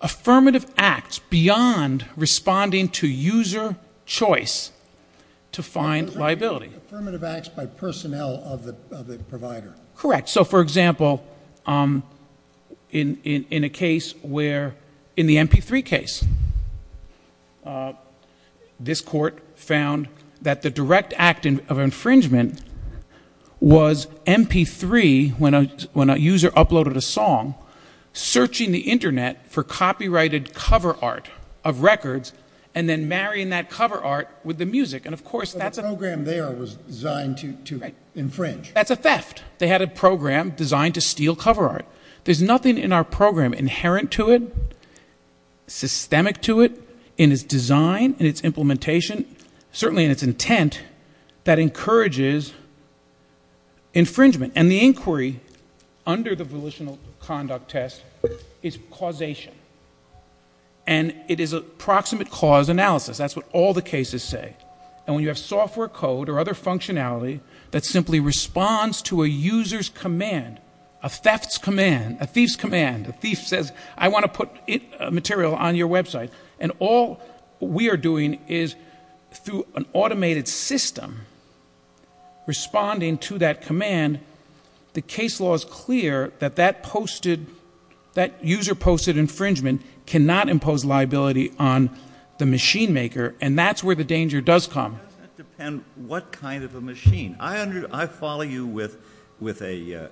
affirmative acts beyond responding to user choice to find liability. Affirmative acts by personnel of the provider. Correct. So, for example, in a case where—in the MP3 case, this court found that the direct act of infringement was MP3, when a user uploaded a song, searching the Internet for copyrighted cover art of records and then marrying that cover art with the music. And, of course, that's a— But the program there was designed to infringe. That's a theft. They had a program designed to steal cover art. There's nothing in our program inherent to it, systemic to it, in its design, in its implementation, certainly in its intent, that encourages infringement. And the inquiry under the volitional conduct test is causation. And it is a proximate cause analysis. That's what all the cases say. And when you have software code or other functionality that simply responds to a user's command, a theft's command, a thief's command, a thief says, I want to put material on your website, and all we are doing is, through an automated system, responding to that command, the case law is clear that that user-posted infringement cannot impose liability on the machine maker, and that's where the danger does come. It doesn't depend what kind of a machine. I follow you with a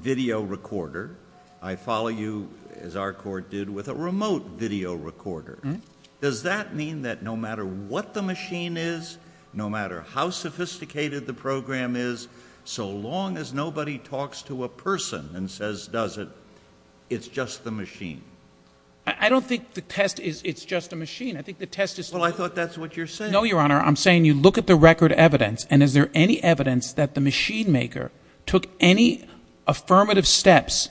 video recorder. I follow you, as our court did, with a remote video recorder. Does that mean that no matter what the machine is, no matter how sophisticated the program is, so long as nobody talks to a person and says, does it, it's just the machine? I don't think the test is, it's just a machine. I think the test is. Well, I thought that's what you're saying. No, Your Honor. I'm saying you look at the record evidence, and is there any evidence that the machine maker took any affirmative steps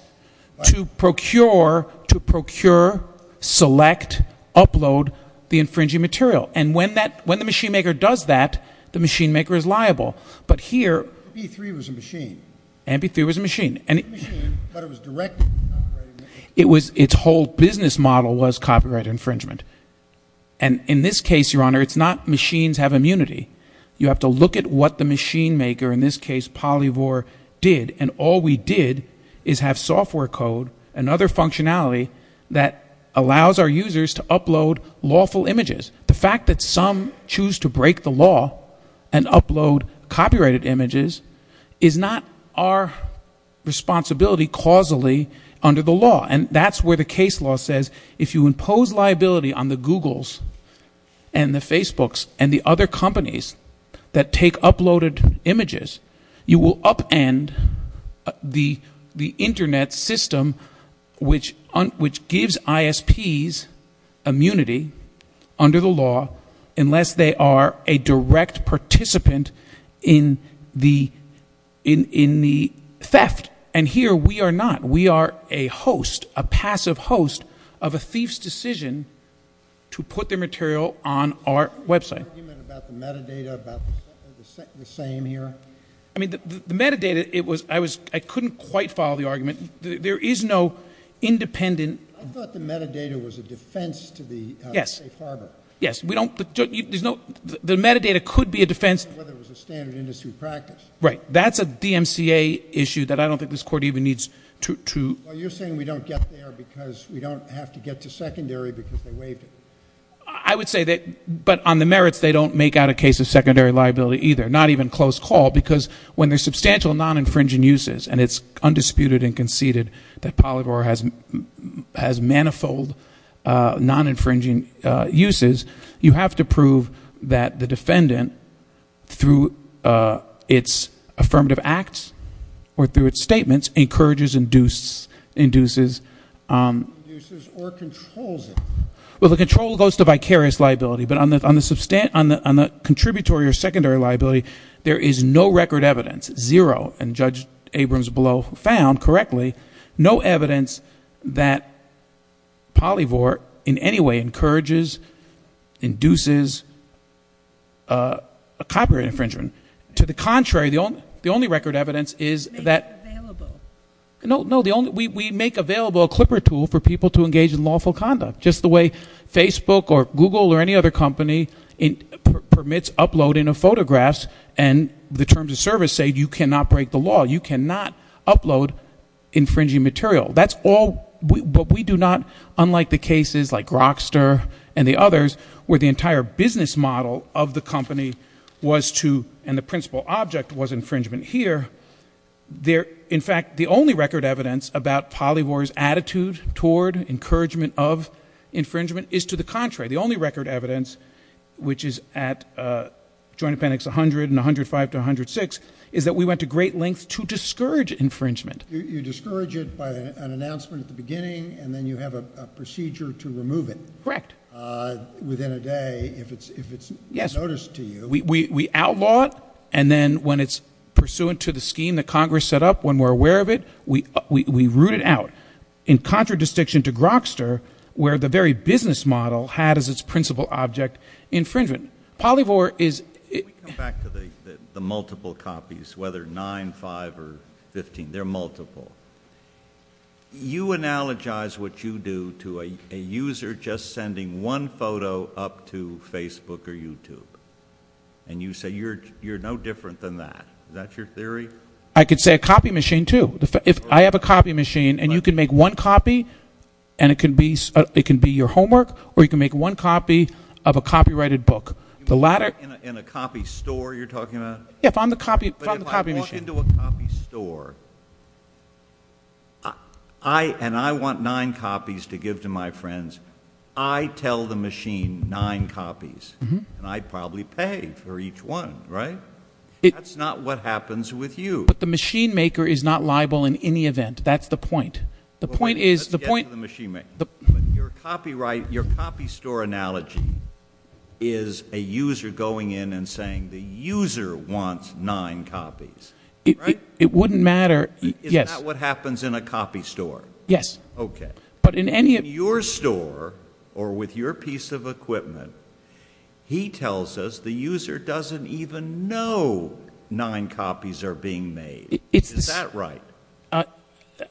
to procure, to procure, select, upload the infringing material? And when the machine maker does that, the machine maker is liable. But here. MP3 was a machine. MP3 was a machine. It was a machine, but it was directed at copyright infringement. Its whole business model was copyright infringement. And in this case, Your Honor, it's not machines have immunity. You have to look at what the machine maker, in this case, Polyvore, did. And all we did is have software code and other functionality that allows our users to upload lawful images. The fact that some choose to break the law and upload copyrighted images is not our responsibility causally under the law. And that's where the case law says if you impose liability on the Googles and the Facebooks and the other companies that take uploaded images, you will upend the Internet system which gives ISPs immunity under the law unless they are a direct participant in the theft. And here we are not. We are a host, a passive host of a thief's decision to put their material on our website. The argument about the metadata about the same here? I mean, the metadata, I couldn't quite follow the argument. There is no independent. I thought the metadata was a defense to the safe harbor. Yes. The metadata could be a defense. Whether it was a standard industry practice. Right. That's a DMCA issue that I don't think this court even needs to. Well, you're saying we don't get there because we don't have to get to secondary because they waived it. I would say that, but on the merits, they don't make out a case of secondary liability either, not even close call, because when there's substantial non-infringing uses and it's undisputed and conceded that Polyvore has manifold non-infringing uses, you have to prove that the defendant, through its affirmative acts or through its statements, encourages, induces. Induces or controls it. Well, the control goes to vicarious liability. But on the contributory or secondary liability, there is no record evidence, zero, and Judge Abrams below found correctly, no evidence that Polyvore in any way encourages, induces a copyright infringement. To the contrary, the only record evidence is that. Make it available. No. We make available a clipper tool for people to engage in lawful conduct. Just the way Facebook or Google or any other company permits uploading of photographs and the terms of service say you cannot break the law. You cannot upload infringing material. That's all. But we do not, unlike the cases like Grokster and the others, where the entire business model of the company was to, and the principal object was infringement here. In fact, the only record evidence about Polyvore's attitude toward encouragement of infringement is to the contrary. The only record evidence, which is at Joint Appendix 100 and 105 to 106, is that we went to great lengths to discourage infringement. You discourage it by an announcement at the beginning, and then you have a procedure to remove it. Correct. Within a day, if it's noticed to you. We outlaw it, and then when it's pursuant to the scheme that Congress set up, when we're aware of it, we root it out. In contradistinction to Grokster, where the very business model had as its principal object infringement. Polyvore is- Can we come back to the multiple copies, whether 9, 5, or 15? They're multiple. You analogize what you do to a user just sending one photo up to Facebook or YouTube. And you say you're no different than that. Is that your theory? I could say a copy machine, too. If I have a copy machine, and you can make one copy, and it can be your homework, or you can make one copy of a copyrighted book. In a copy store you're talking about? Yeah, if I'm the copy machine. But if I walk into a copy store, and I want nine copies to give to my friends, I tell the machine nine copies. And I'd probably pay for each one, right? That's not what happens with you. But the machine maker is not liable in any event. That's the point. The point is- Let's get to the machine maker. Your copy store analogy is a user going in and saying the user wants nine copies. It wouldn't matter- Is that what happens in a copy store? Yes. Okay. In your store, or with your piece of equipment, he tells us the user doesn't even know nine copies are being made. Is that right?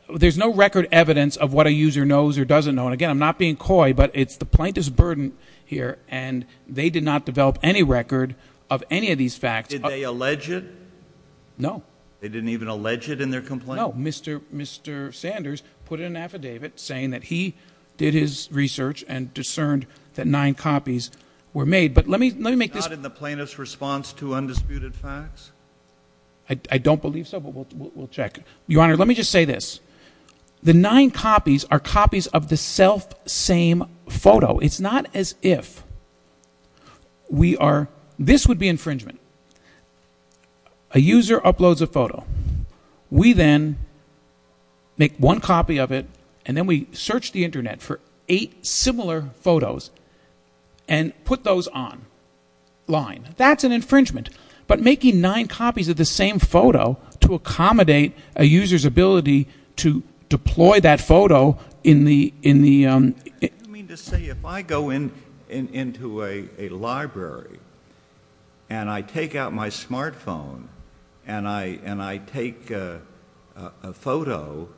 There's no record evidence of what a user knows or doesn't know. And, again, I'm not being coy, but it's the plaintiff's burden here, and they did not develop any record of any of these facts. Did they allege it? No. They didn't even allege it in their complaint? No. Mr. Sanders put in an affidavit saying that he did his research and discerned that nine copies were made. But let me make this- Not in the plaintiff's response to undisputed facts? I don't believe so, but we'll check. Your Honor, let me just say this. The nine copies are copies of the self-same photo. It's not as if we are- This would be infringement. A user uploads a photo. We then make one copy of it, and then we search the Internet for eight similar photos and put those online. That's an infringement. But making nine copies of the same photo to accommodate a user's ability to deploy that photo in the- I take a photo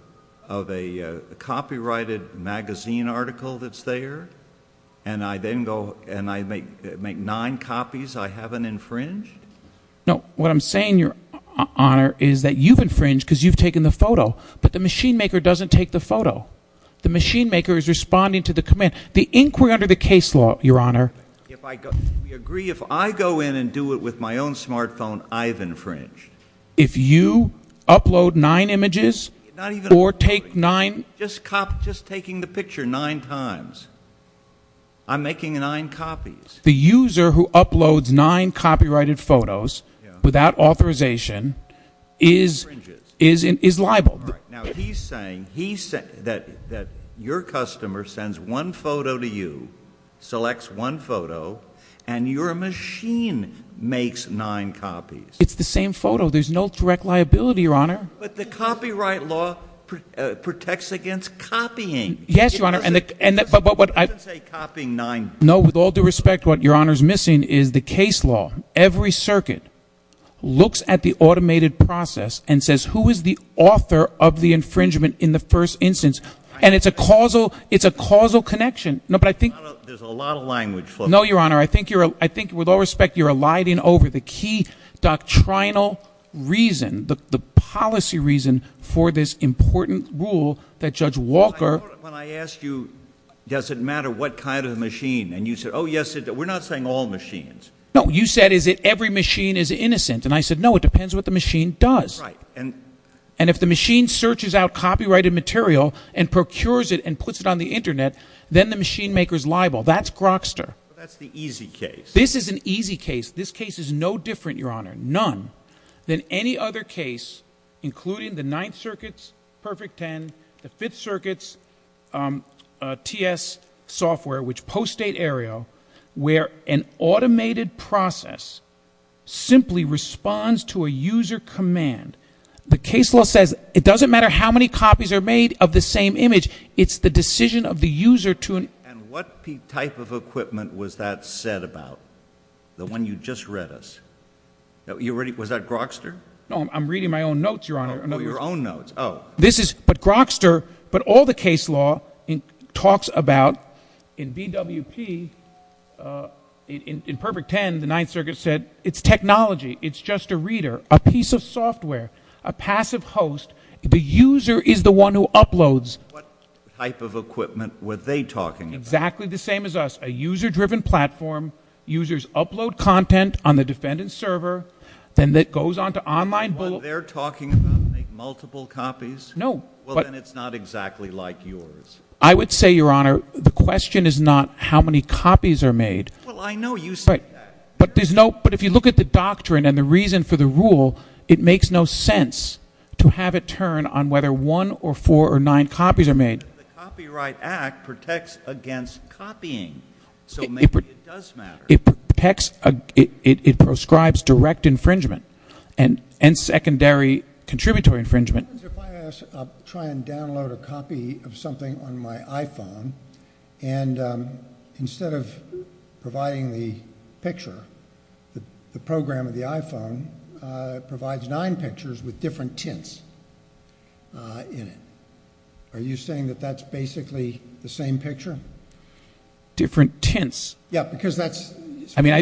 of a copyrighted magazine article that's there, and I then go and I make nine copies I haven't infringed? No. What I'm saying, Your Honor, is that you've infringed because you've taken the photo, but the machine maker doesn't take the photo. The machine maker is responding to the command. The inquiry under the case law, Your Honor- We agree if I go in and do it with my own smartphone, I've infringed. If you upload nine images or take nine- Just taking the picture nine times, I'm making nine copies. The user who uploads nine copyrighted photos without authorization is liable. Now, he's saying that your customer sends one photo to you, selects one photo, and your machine makes nine copies. It's the same photo. There's no direct liability, Your Honor. But the copyright law protects against copying. Yes, Your Honor. It doesn't say copying nine times. No. With all due respect, what Your Honor is missing is the case law. Every circuit looks at the automated process and says, who is the author of the infringement in the first instance? And it's a causal connection. There's a lot of language floating. No, Your Honor. I think, with all respect, you're eliding over the key doctrinal reason, the policy reason for this important rule that Judge Walker- When I asked you, does it matter what kind of machine? And you said, oh, yes, it does. We're not saying all machines. No. You said, is it every machine is innocent? And I said, no, it depends what the machine does. Right. And if the machine searches out copyrighted material and procures it and puts it on the Internet, then the machine maker is liable. That's Grokster. But that's the easy case. This is an easy case. This case is no different, Your Honor, none, than any other case, including the Ninth Circuit's Perfect 10, the Fifth Circuit's TS software, which post-State Aereo, where an automated process simply responds to a user command. The case law says it doesn't matter how many copies are made of the same image. It's the decision of the user to- And what type of equipment was that set about? The one you just read us. Was that Grokster? No, I'm reading my own notes, Your Honor. Oh, your own notes. Oh. But Grokster, but all the case law talks about in BWP, in Perfect 10, the Ninth Circuit said it's technology. It's just a reader, a piece of software, a passive host. The user is the one who uploads. What type of equipment were they talking about? Exactly the same as us, a user-driven platform. Users upload content on the defendant's server. Then it goes on to online bull- The one they're talking about make multiple copies? No. Well, then it's not exactly like yours. I would say, Your Honor, the question is not how many copies are made. Well, I know you say that. But if you look at the doctrine and the reason for the rule, it makes no sense to have it turn on whether one or four or nine copies are made. The Copyright Act protects against copying, so maybe it does matter. It protects, it prescribes direct infringement and secondary contributory infringement. Your Honor, if I ask, I'll try and download a copy of something on my iPhone, and instead of providing the picture, the program of the iPhone provides nine pictures with different tints in it. Are you saying that that's basically the same picture? Different tints? Yeah, because that's- I mean,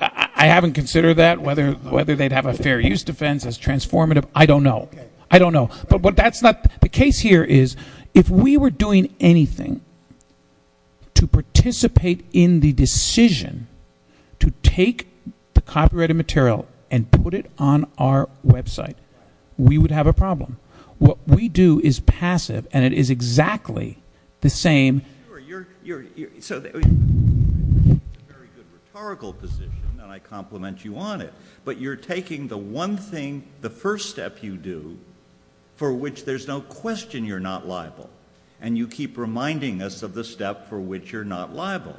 I haven't considered that, whether they'd have a fair use defense as transformative. I don't know. I don't know. But the case here is if we were doing anything to participate in the decision to take the copyrighted material and put it on our website, we would have a problem. What we do is passive, and it is exactly the same. You're in a very good rhetorical position, and I compliment you on it, but you're taking the one thing, the first step you do, for which there's no question you're not liable, and you keep reminding us of the step for which you're not liable.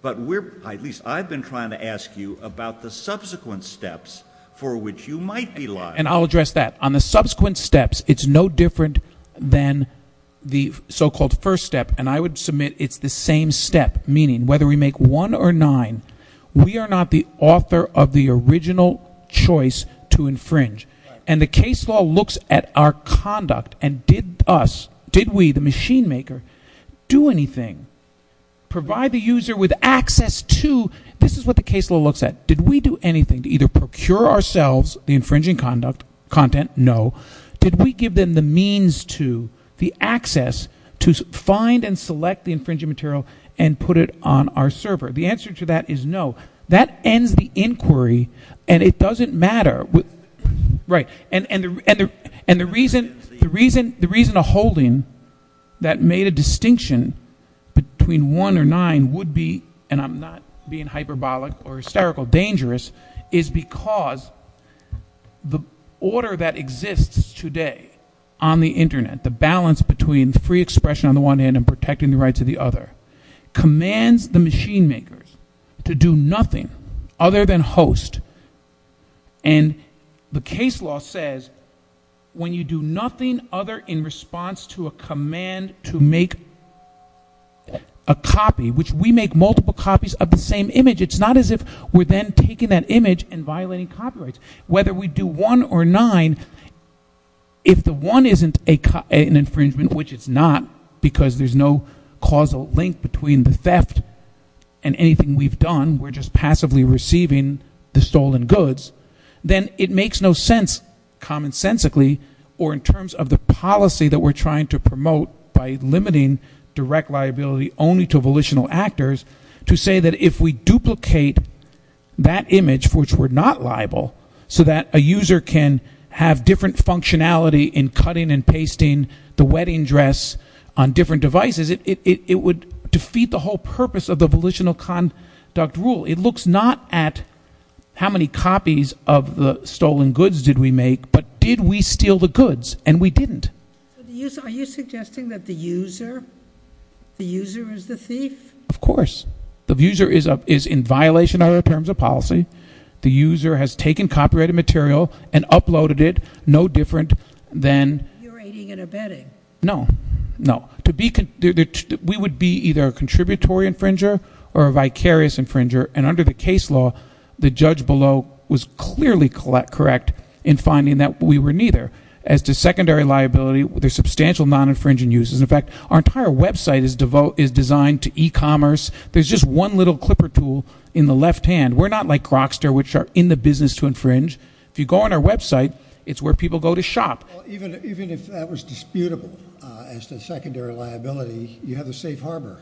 But we're, at least I've been trying to ask you about the subsequent steps for which you might be liable. And I'll address that. On the subsequent steps, it's no different than the so-called first step, and I would submit it's the same step, meaning whether we make one or nine, we are not the author of the original choice to infringe. And the case law looks at our conduct and did us, did we, the machine maker, do anything, provide the user with access to? This is what the case law looks at. Did we do anything to either procure ourselves the infringing content? No. Did we give them the means to, the access to find and select the infringing material and put it on our server? The answer to that is no. That ends the inquiry, and it doesn't matter. Right. And the reason a holding that made a distinction between one or nine would be, and I'm not being hyperbolic or hysterical, dangerous, is because the order that exists today on the Internet, the balance between free expression on the one hand and protecting the rights of the other, commands the machine makers to do nothing other than host, and the case law says when you do nothing other in response to a command to make a copy, which we make multiple copies of the same image, it's not as if we're then taking that image and violating copyrights. So whether we do one or nine, if the one isn't an infringement, which it's not, because there's no causal link between the theft and anything we've done, we're just passively receiving the stolen goods, then it makes no sense, commonsensically or in terms of the policy that we're trying to promote by limiting direct liability only to volitional actors, to say that if we duplicate that image, which we're not liable, so that a user can have different functionality in cutting and pasting the wedding dress on different devices, it would defeat the whole purpose of the volitional conduct rule. It looks not at how many copies of the stolen goods did we make, but did we steal the goods, and we didn't. Are you suggesting that the user is the thief? Of course. The user is in violation of the terms of policy. The user has taken copyrighted material and uploaded it no different than... You're aiding and abetting. No, no. We would be either a contributory infringer or a vicarious infringer, and under the case law, the judge below was clearly correct in finding that we were neither. As to secondary liability, there's substantial non-infringing uses. In fact, our entire website is designed to e-commerce. There's just one little clipper tool in the left hand. We're not like Rockster, which are in the business to infringe. If you go on our website, it's where people go to shop. Even if that was disputable as to secondary liability, you have a safe harbor.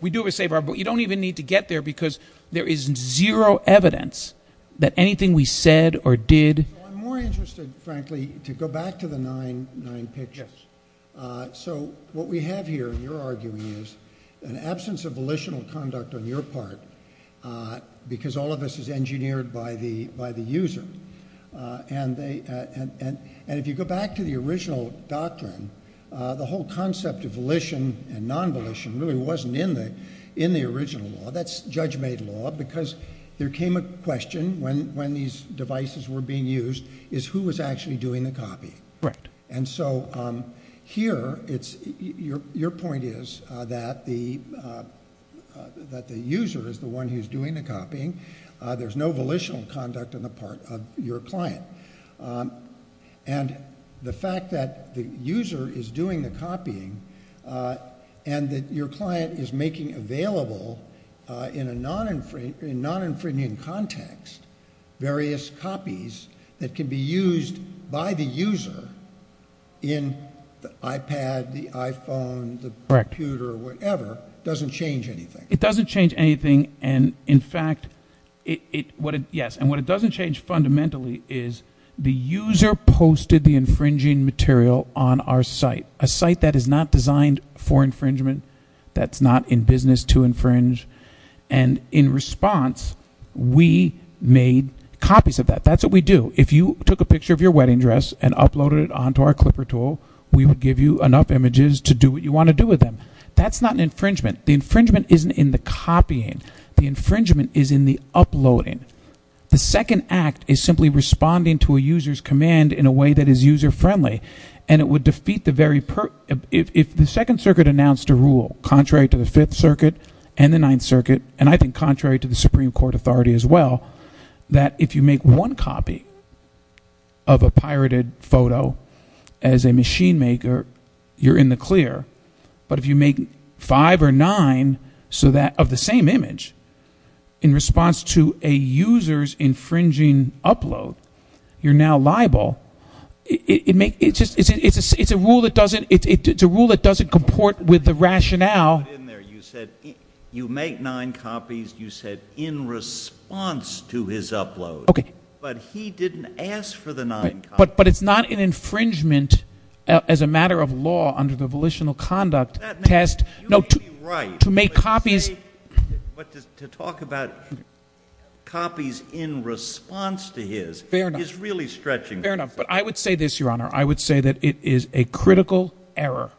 We do have a safe harbor, but you don't even need to get there, because there is zero evidence that anything we said or did... I'm more interested, frankly, to go back to the nine pictures. What we have here, you're arguing, is an absence of volitional conduct on your part, because all of this is engineered by the user. If you go back to the original doctrine, the whole concept of volition and non-volition really wasn't in the original law. That's judge-made law, because there came a question when these devices were being used, is who was actually doing the copying. Here, your point is that the user is the one who's doing the copying. There's no volitional conduct on the part of your client. The fact that the user is doing the copying, and that your client is making available, in a non-infringing context, various copies that can be used by the user in the iPad, the iPhone, the computer, whatever, doesn't change anything. It doesn't change anything. In fact, yes, and what it doesn't change fundamentally is the user posted the infringing material on our site, a site that is not designed for infringement, that's not in business to infringe. In response, we made copies of that. That's what we do. If you took a picture of your wedding dress and uploaded it onto our Clipper tool, we would give you enough images to do what you want to do with them. That's not an infringement. The infringement isn't in the copying. The infringement is in the uploading. The second act is simply responding to a user's command in a way that is user-friendly, and it would defeat the very... If the Second Circuit announced a rule, contrary to the Fifth Circuit and the Ninth Circuit, and I think contrary to the Supreme Court authority as well, that if you make one copy of a pirated photo as a machine maker, you're in the clear, but if you make five or nine of the same image in response to a user's infringing upload, you're now liable. It's a rule that doesn't comport with the rationale. You said you make nine copies. You said in response to his upload. Okay. But he didn't ask for the nine copies. But it's not an infringement as a matter of law under the Volitional Conduct Test. You may be right, but to talk about copies in response to his is really stretching. Fair enough. But I would say this, Your Honor. I would say that it is a critical error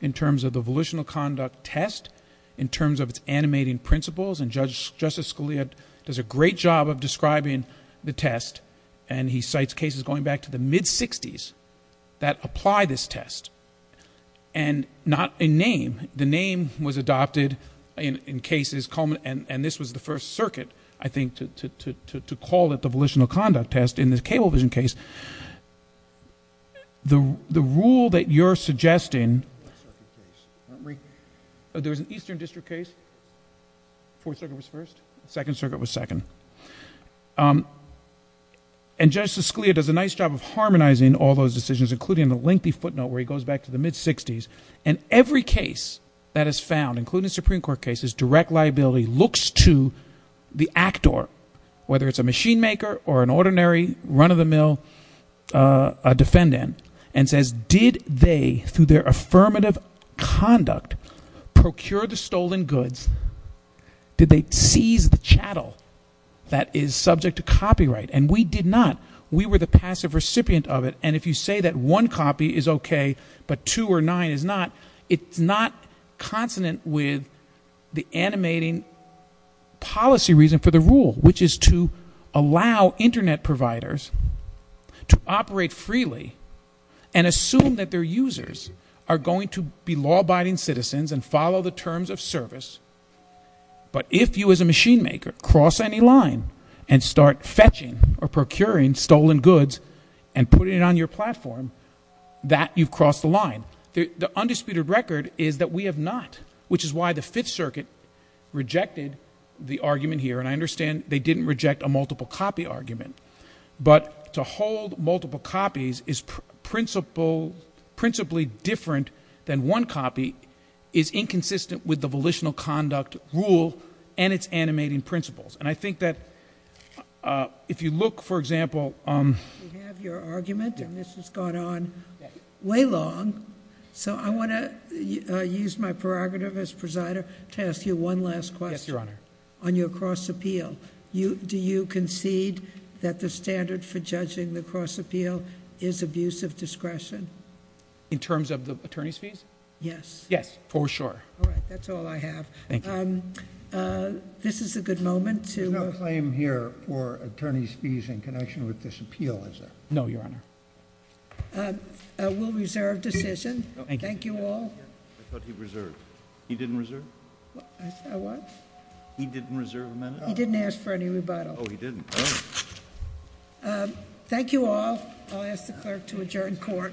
in terms of the Volitional Conduct Test, in terms of its animating principles, and Justice Scalia does a great job of describing the test, and he cites cases going back to the mid-'60s that apply this test, and not a name. The name was adopted in cases, and this was the first circuit, I think, to call it the Volitional Conduct Test in the Cablevision case. The rule that you're suggesting... There was an Eastern District case. Fourth Circuit was first. Second Circuit was second. And Justice Scalia does a nice job of harmonizing all those decisions, including the lengthy footnote where he goes back to the mid-'60s, and every case that is found, including Supreme Court cases, direct liability, looks to the actor, whether it's a machine maker or an ordinary run-of-the-mill defendant, and says, did they, through their affirmative conduct, procure the stolen goods? Did they seize the chattel that is subject to copyright? And we did not. We were the passive recipient of it, and if you say that one copy is okay, but two or nine is not, it's not consonant with the animating policy reason for the rule, which is to allow Internet providers to operate freely and assume that their users are going to be law-abiding citizens and follow the terms of service. But if you, as a machine maker, cross any line and start fetching or procuring stolen goods and putting it on your platform, that you've crossed the line. The undisputed record is that we have not, which is why the Fifth Circuit rejected the argument here. And I understand they didn't reject a multiple copy argument, but to hold multiple copies is principally different than one copy is inconsistent with the volitional conduct rule and its animating principles. And I think that if you look, for example... We have your argument, and this has gone on way long, so I want to use my prerogative as presider to ask you one last question. Yes, Your Honor. On your cross appeal, do you concede that the standard for judging the cross appeal is abuse of discretion? In terms of the attorney's fees? Yes. Yes, for sure. All right, that's all I have. Thank you. This is a good moment to... There's no claim here for attorney's fees in connection with this appeal, is there? No, Your Honor. We'll reserve decision. Thank you all. I thought he reserved. He didn't reserve? What? He didn't reserve a minute? He didn't ask for any rebuttal. Thank you all. I'll ask the clerk to adjourn court. Okay.